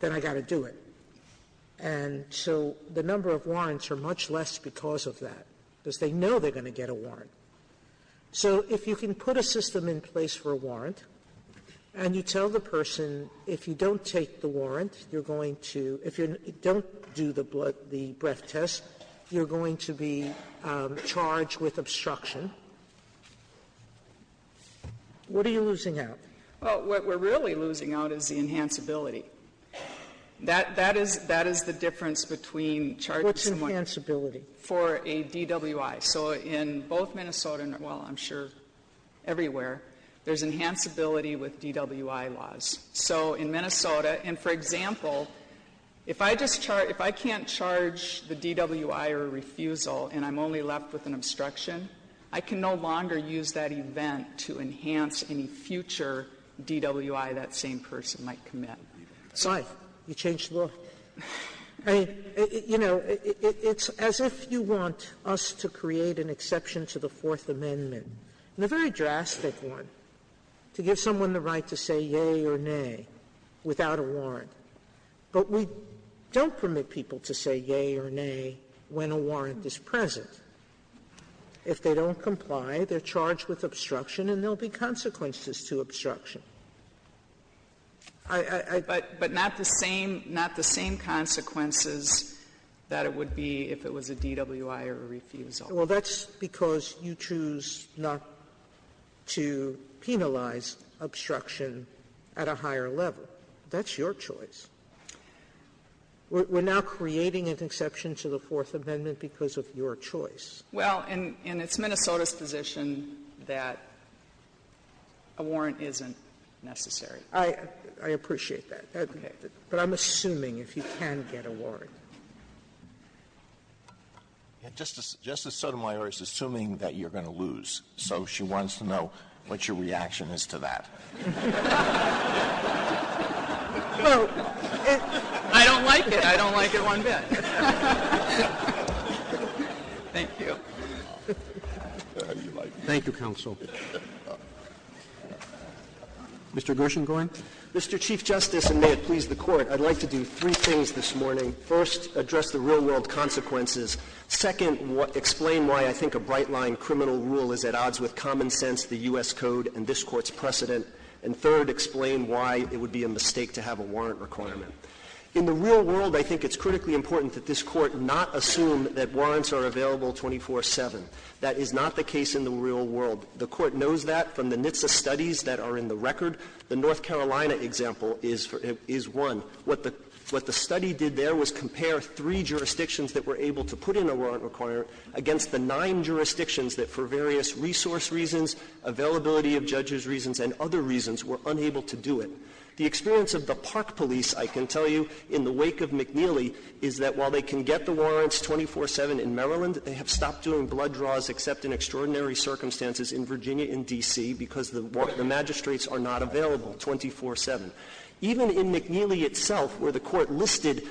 then I've got to do it. And so the number of warrants are much less because of that, because they know they're going to get a warrant. So if you can put a system in place for a warrant, and you tell the person, if you don't take the warrant, you're going to, if you don't do the breath test, you're going to be charged with obstruction, what are you losing out? Well, what we're really losing out is the enhanceability. That is the difference between charging someone- What's enhanceability? For a DWI. So in both Minnesota and, well, I'm sure everywhere, there's enhanceability with DWI laws. So in Minnesota, and for example, if I can't charge the DWI or refusal, and I'm only left with an obstruction, I can no longer use that event to enhance any future DWI that same person might commit. Sorry, you changed the law. You know, it's as if you want us to create an exception to the Fourth Amendment, a very drastic one, to give someone the right to say yea or nay without a warrant. But we don't permit people to say yea or nay when a warrant is present. If they don't comply, they're charged with obstruction, and there will be consequences to obstruction. But not the same consequences that it would be if it was a DWI or a refusal. Well, that's because you choose not to penalize obstruction at a higher level. That's your choice. We're now creating an exception to the Fourth Amendment because of your choice. Well, and it's Minnesota's position that a warrant isn't necessary. I appreciate that. But I'm assuming if you can get a warrant. Justice Sotomayor is assuming that you're going to lose, so she wants to know what your reaction is to that. I don't like it. I don't like it one bit. Thank you. Thank you, Counsel. Mr. Gershengorn? Mr. Chief Justice, and may it please the Court, I'd like to do three things this morning. First, address the real-world consequences. Second, explain why I think a bright-line criminal rule is at odds with common sense, the U.S. Code, and this Court's precedent. And third, explain why it would be a mistake to have a warrant requirement. In the real world, I think it's critically important that this Court not assume that warrants are available 24-7. That is not the case in the real world. The Court knows that from the NHTSA studies that are in the record. The North Carolina example is one. What the study did there was compare three jurisdictions that were able to put in a warrant requirement against the nine jurisdictions that, for various resource reasons, availability of judges reasons, and other reasons, were unable to do it. The experience of the Park Police, I can tell you, in the wake of McNeely, is that while they can get the warrants 24-7 in Maryland, they have stopped doing blood draws except in extraordinary circumstances in Virginia and D.C. because the magistrates are not available 24-7. Even in McNeely itself, where the Court listed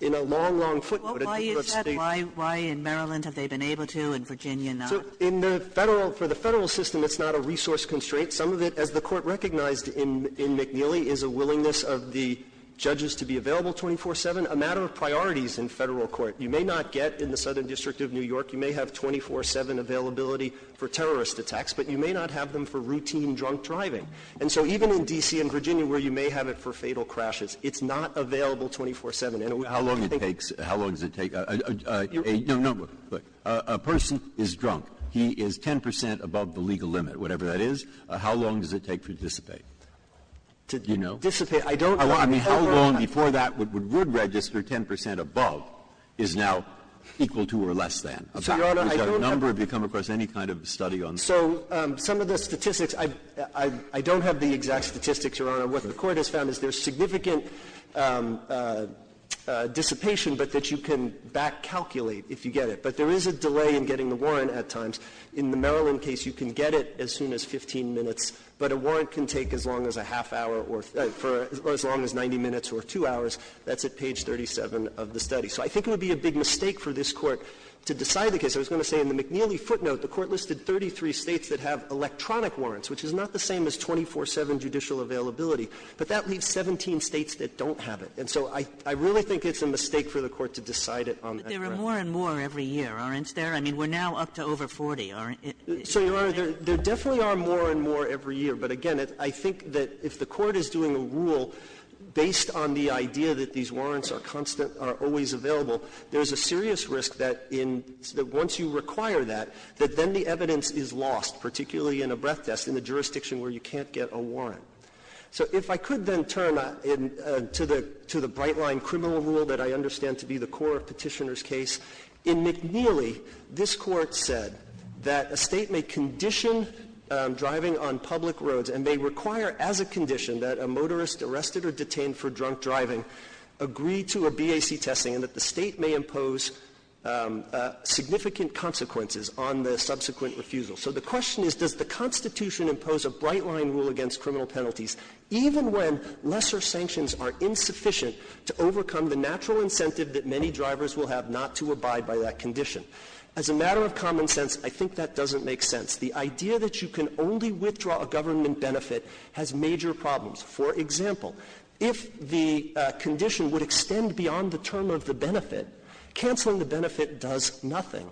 in a long, long footnote, Why in Maryland have they been able to and Virginia not? For the federal system, it's not a resource constraint. Some of it, as the Court recognized in McNeely, is a willingness of the judges to be available 24-7, a matter of priorities in federal court. You may not get, in the Southern District of New York, you may have 24-7 availability for terrorist attacks, but you may not have them for routine drunk driving. And so even in D.C. and Virginia, where you may have it for fatal crashes, it's not available 24-7. And how long does it take a person is drunk, he is 10 percent above the legal limit, whatever that is, how long does it take to dissipate? Do you know? I mean, how long before that would register 10 percent above is now equal to or less than? Is that a number? Have you come across any kind of study on that? So some of the statistics, I don't have the exact statistics, Your Honor. What the Court has found is there's significant dissipation, but that you can back-calculate if you get it. But there is a delay in getting the warrant at times. In the Maryland case, you can get it as soon as 15 minutes, but a warrant can take as long as 90 minutes or two hours. That's at page 37 of the study. So I think it would be a big mistake for this Court to decide the case. I was going to say in the McNeely footnote, the Court listed 33 states that have electronic warrants, which is not the same as 24-7 judicial availability, but that leaves 17 states that don't have it. And so I really think it's a mistake for the Court to decide it on that basis. But there are more and more every year, aren't there? I mean, we're now up to over 40, aren't there? So, Your Honor, there definitely are more and more every year. But, again, I think that if the Court is doing a rule based on the idea that these warrants are constant, are always available, there's a serious risk that once you require that, that then the evidence is lost, particularly in a breath test, in a jurisdiction where you can't get a warrant. So if I could then turn to the bright-line criminal rule that I understand to be the core of Petitioner's case. In McNeely, this Court said that a state may condition driving on public roads and may require as a condition that a motorist arrested or detained for drunk driving agree to a BAC testing and that the state may impose significant consequences on the subsequent refusal. So the question is, does the Constitution impose a bright-line rule against criminal penalties even when lesser sanctions are insufficient to overcome the natural incentive that many drivers will have not to abide by that condition? As a matter of common sense, I think that doesn't make sense. The idea that you can only withdraw a government benefit has major problems. For example, if the condition would extend beyond the term of the benefit, canceling the benefit does nothing.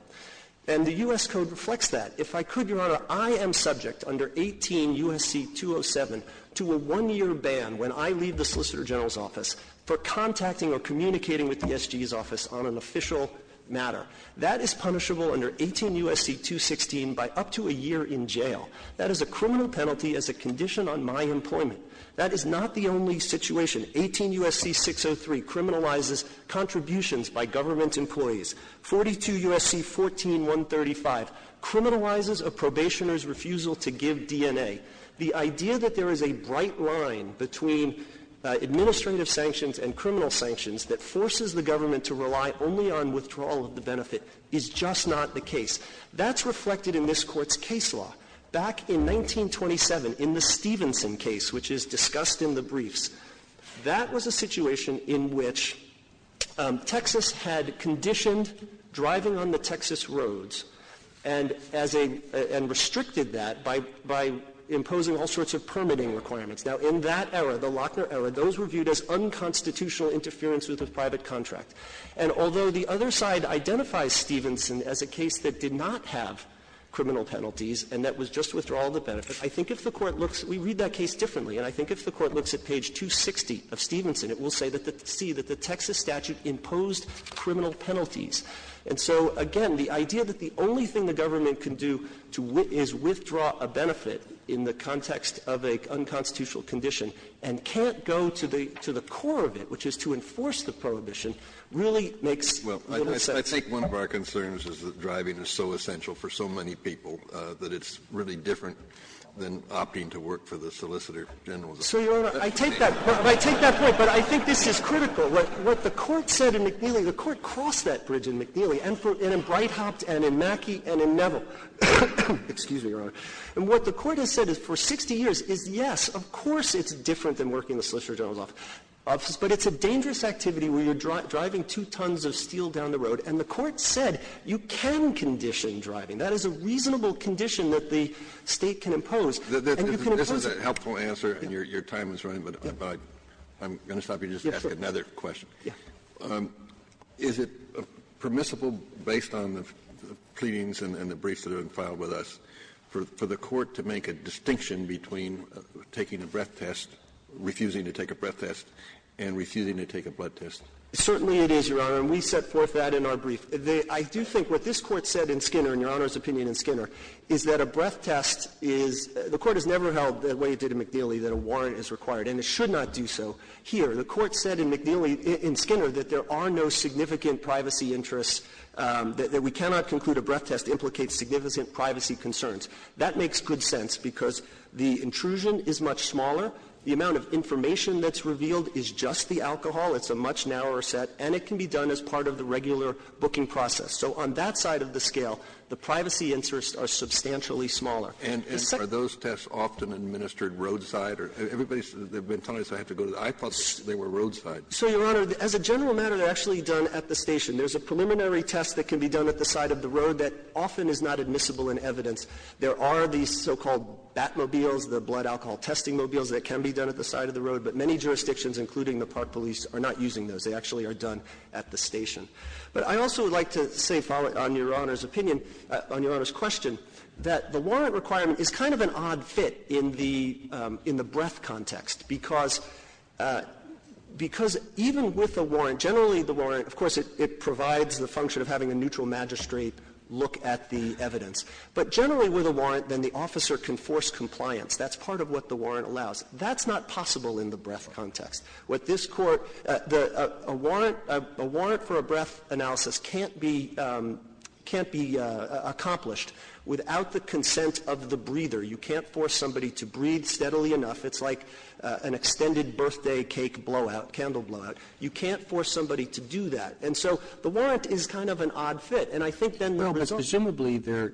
And the U.S. Code reflects that. If I could, Your Honor, I am subject under 18 U.S.C. 207 to a one-year ban when I leave the Solicitor General's office for contacting or communicating with the SGE's office on an official matter. That is punishable under 18 U.S.C. 216 by up to a year in jail. That is a criminal penalty as a condition on my employment. That is not the only situation. 18 U.S.C. 603 criminalizes contributions by government employees. 42 U.S.C. 14135 criminalizes a probationer's refusal to give DNA. The idea that there is a bright line between administrative sanctions and criminal sanctions that forces the government to rely only on withdrawal of the benefit is just not the case. That's reflected in this Court's case law. Back in 1927, in the Stevenson case, which is discussed in the brief, that was a situation in which Texas had conditioned driving on the Texas roads and restricted that by imposing all sorts of permitting requirements. Now, in that era, the Lochner era, those were viewed as unconstitutional interference with a private contract. And although the other side identifies Stevenson as a case that did not have criminal penalties and that was just withdrawal of the benefit, we read that case differently, and I think if the Court looks at page 260 of Stevenson, it will see that the Texas statute imposed criminal penalties. And so, again, the idea that the only thing the government can do is withdraw a benefit in the context of an unconstitutional condition and can't go to the core of it, which is to enforce the prohibition, really makes little sense. I think one of our concerns is that driving is so essential for so many people that it's really different than opting to work for the Solicitor General. So, Your Honor, I take that. But I think this is critical. What the Court said in McNeely, the Court crossed that bridge in McNeely and in Breithaupt and in Mackey and in Neville. Excuse me, Your Honor. And what the Court has said is for 60 years, yes, of course it's different than working the Solicitor General's office, but it's a dangerous activity when you're driving two tons of steel down the road. And the Court said you can condition driving. That is a reasonable condition that the state can impose. This is a helpful answer, and your time is running, but I'm going to stop you just to ask another question. Yes. Is it permissible, based on the pleadings and the briefs that have been filed with us, for the Court to make a distinction between taking a breath test, refusing to take a breath test, and refusing to take a blood test? Certainly it is, Your Honor, and we set forth that in our brief. I do think what this Court said in Skinner, in Your Honor's opinion in Skinner, is that a breath test is – the Court has never held, the way it did in McNeely, that a warrant is required, and it should not do so. Here, the Court said in McNeely, in Skinner, that there are no significant privacy interests, that we cannot conclude a breath test implicates significant privacy concerns. That makes good sense, because the intrusion is much smaller, the amount of information that's revealed is just the alcohol, it's a much narrower set, and it can be done as part of the regular booking process. So on that side of the scale, the privacy interests are substantially smaller. And are those tests often administered roadside? Everybody says they've been told they have to go – I thought they were roadside. So, Your Honor, as a general matter, they're actually done at the station. There's a preliminary test that can be done at the side of the road that often is not admissible in evidence. There are these so-called Batmobiles, the blood alcohol testing mobiles, that can be done at the side of the road, but many jurisdictions, including the Park Police, are not using those. They actually are done at the station. But I also would like to say, following on Your Honor's opinion, on Your Honor's question, that the warrant requirement is kind of an odd fit in the breath context, because even with a warrant, generally the warrant, of course, it provides the function of having a neutral magistrate look at the evidence. But generally with a warrant, then the officer can force compliance. That's part of what the warrant allows. That's not possible in the breath context. With this court, a warrant for a breath analysis can't be accomplished without the consent of the breather. You can't force somebody to breathe steadily enough. It's like an extended birthday cake blowout, candle blowout. You can't force somebody to do that. So the warrant is kind of an odd fit. Presumably there are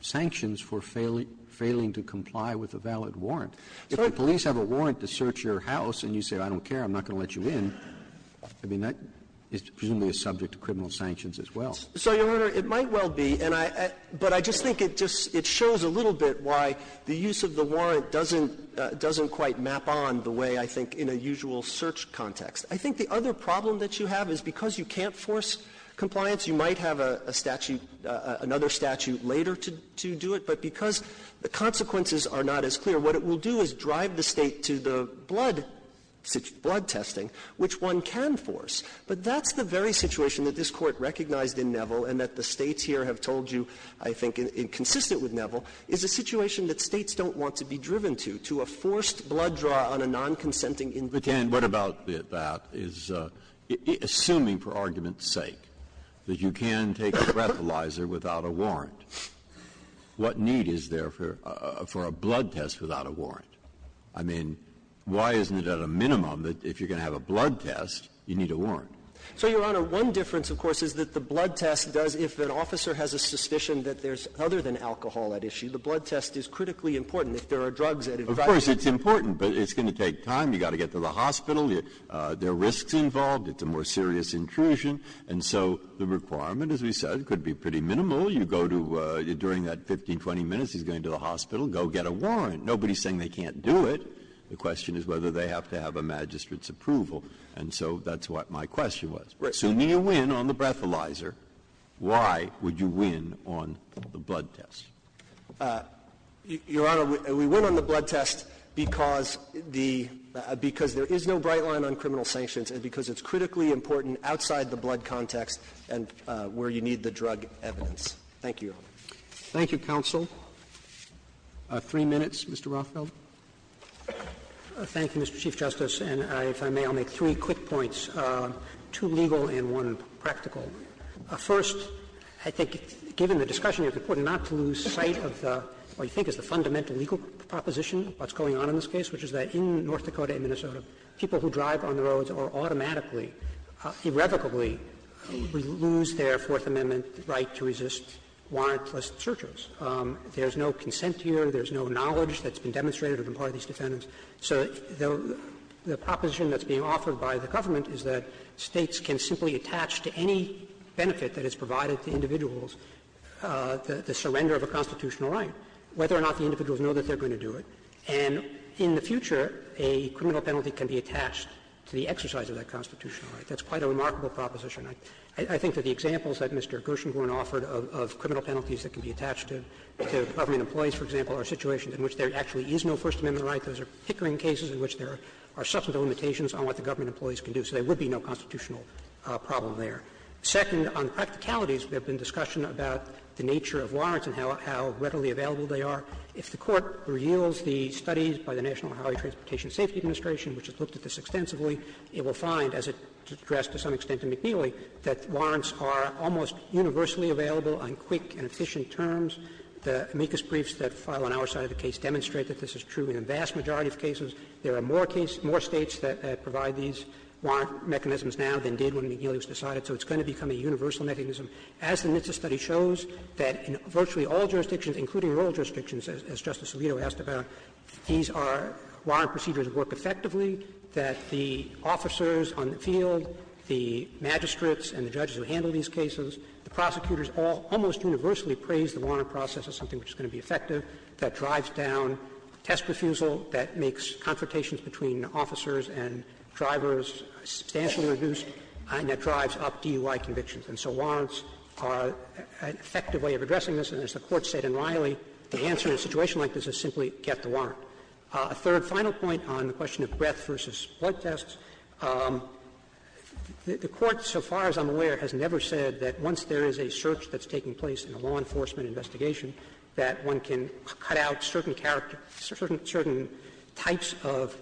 sanctions for failing to comply with a valid warrant. If the police have a warrant to search your house and you say, I don't care, I'm not going to let you in, it's presumably subject to criminal sanctions as well. Your Honor, it might well be, but I just think it shows a little bit why the use of the warrant doesn't quite map on the way, I think, in a usual search context. I think the other problem that you have is because you can't force compliance, you might have another statute later to do it, but because the consequences are not as clear, what it will do is drive the state to the blood testing, which one can force. But that's the very situation that this Court recognized in Neville and that the states here have told you, I think, consistent with Neville, is a situation that states don't want to be driven to, to a forced blood draw on a non-consenting individual. But, Dan, what about that is, assuming for argument's sake, that you can take a breathalyzer without a warrant, what need is there for a blood test without a warrant? I mean, why isn't it at a minimum that if you're going to have a blood test, you need a warrant? So, Your Honor, one difference, of course, is that the blood test does, if an officer has a suspicion that there's other than alcohol at issue, the blood test is critically important. Of course, it's important, but it's going to take time. You've got to get to the hospital. There are risks involved. It's a more serious intrusion. And so the requirement, as you said, could be pretty minimal. You go to, during that 15, 20 minutes, he's going to the hospital, go get a warrant. Nobody's saying they can't do it. The question is whether they have to have a magistrate's approval. And so that's what my question was. If you need a win on the breathalyzer, why would you win on the blood test? Your Honor, we win on the blood test because there is no bright line on criminal sanctions and because it's critically important outside the blood context and where you need the drug evidence. Thank you. Thank you, counsel. Three minutes, Mr. Rothfeld. Thank you, Mr. Chief Justice. And if I may, I'll make three quick points. Two legal and one practical. First, I think, given the discussion with the Court not to lose sight of what you think is the fundamental legal proposition of what's going on in this case, which is that in North Dakota and Minnesota, people who drive on the roads are automatically, irrevocably, lose their Fourth Amendment right to resist warrantless searches. There's no consent here. There's no knowledge that's been demonstrated or been part of these defendants. So the proposition that's being offered by the government is that States can simply attach to any benefit that is provided to individuals the surrender of a constitutional right, whether or not the individuals know that they're going to do it. And in the future, a criminal penalty can be attached to the exercise of that constitutional right. That's quite a remarkable proposition. I think that the examples that Mr. Gershengorn offered of criminal penalties that can be attached to the government employees, for example, are situations in which there actually is no First Amendment right. Those are hickering cases in which there are substantial limitations on what the government employees can do. So there would be no constitutional problem there. Second, on practicalities, there have been discussion about the nature of warrants and how readily available they are. If the Court reveals the studies by the National Highway Transportation Safety Administration, which has looked at this extensively, it will find, as it addressed to some extent to McNeely, that warrants are almost universally available on quick and efficient terms. The amicus briefs that file on our side of the case demonstrate that this is true in a vast majority of cases. There are more cases, more States that provide these warrant mechanisms now than did when McNeely decided. So it's going to become a universal mechanism. As the NHTSA study shows, that in virtually all jurisdictions, including rural jurisdictions, as Justice Alito asked about, these are warrant procedures that work effectively, that the officers on the field, the magistrates and the judges who handle these warrant processes, which is going to be effective, that drives down test refusal, that makes confrontations between officers and drivers substantially reduced, and that drives up DUI convictions. And so warrants are an effective way of addressing this. And as the Court said in Riley, the answer to a situation like this is simply get the warrant. A third final point on the question of breath versus blood tests, the Court, so far as I'm aware, has never said that once there is a search that's taking place in a law enforcement investigation, that one can cut out certain character, certain types of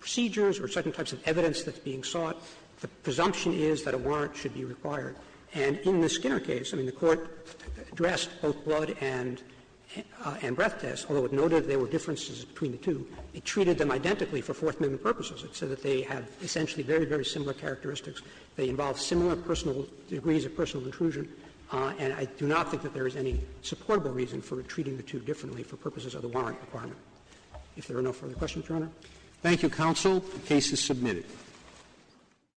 procedures or certain types of evidence that's being sought. The presumption is that a warrant should be required. And in the Skinner case, I mean, the Court addressed both blood and breath tests, although it noted there were differences between the two. It treated them identically for forthcoming purposes. It said that they have essentially very, very similar characteristics. They involve similar personal degrees of personal inclusion. And I do not think that there is any supportable reason for treating the two differently for purposes of the warrant requirement. If there are no further questions, Your Honor. Thank you, counsel. The case is submitted.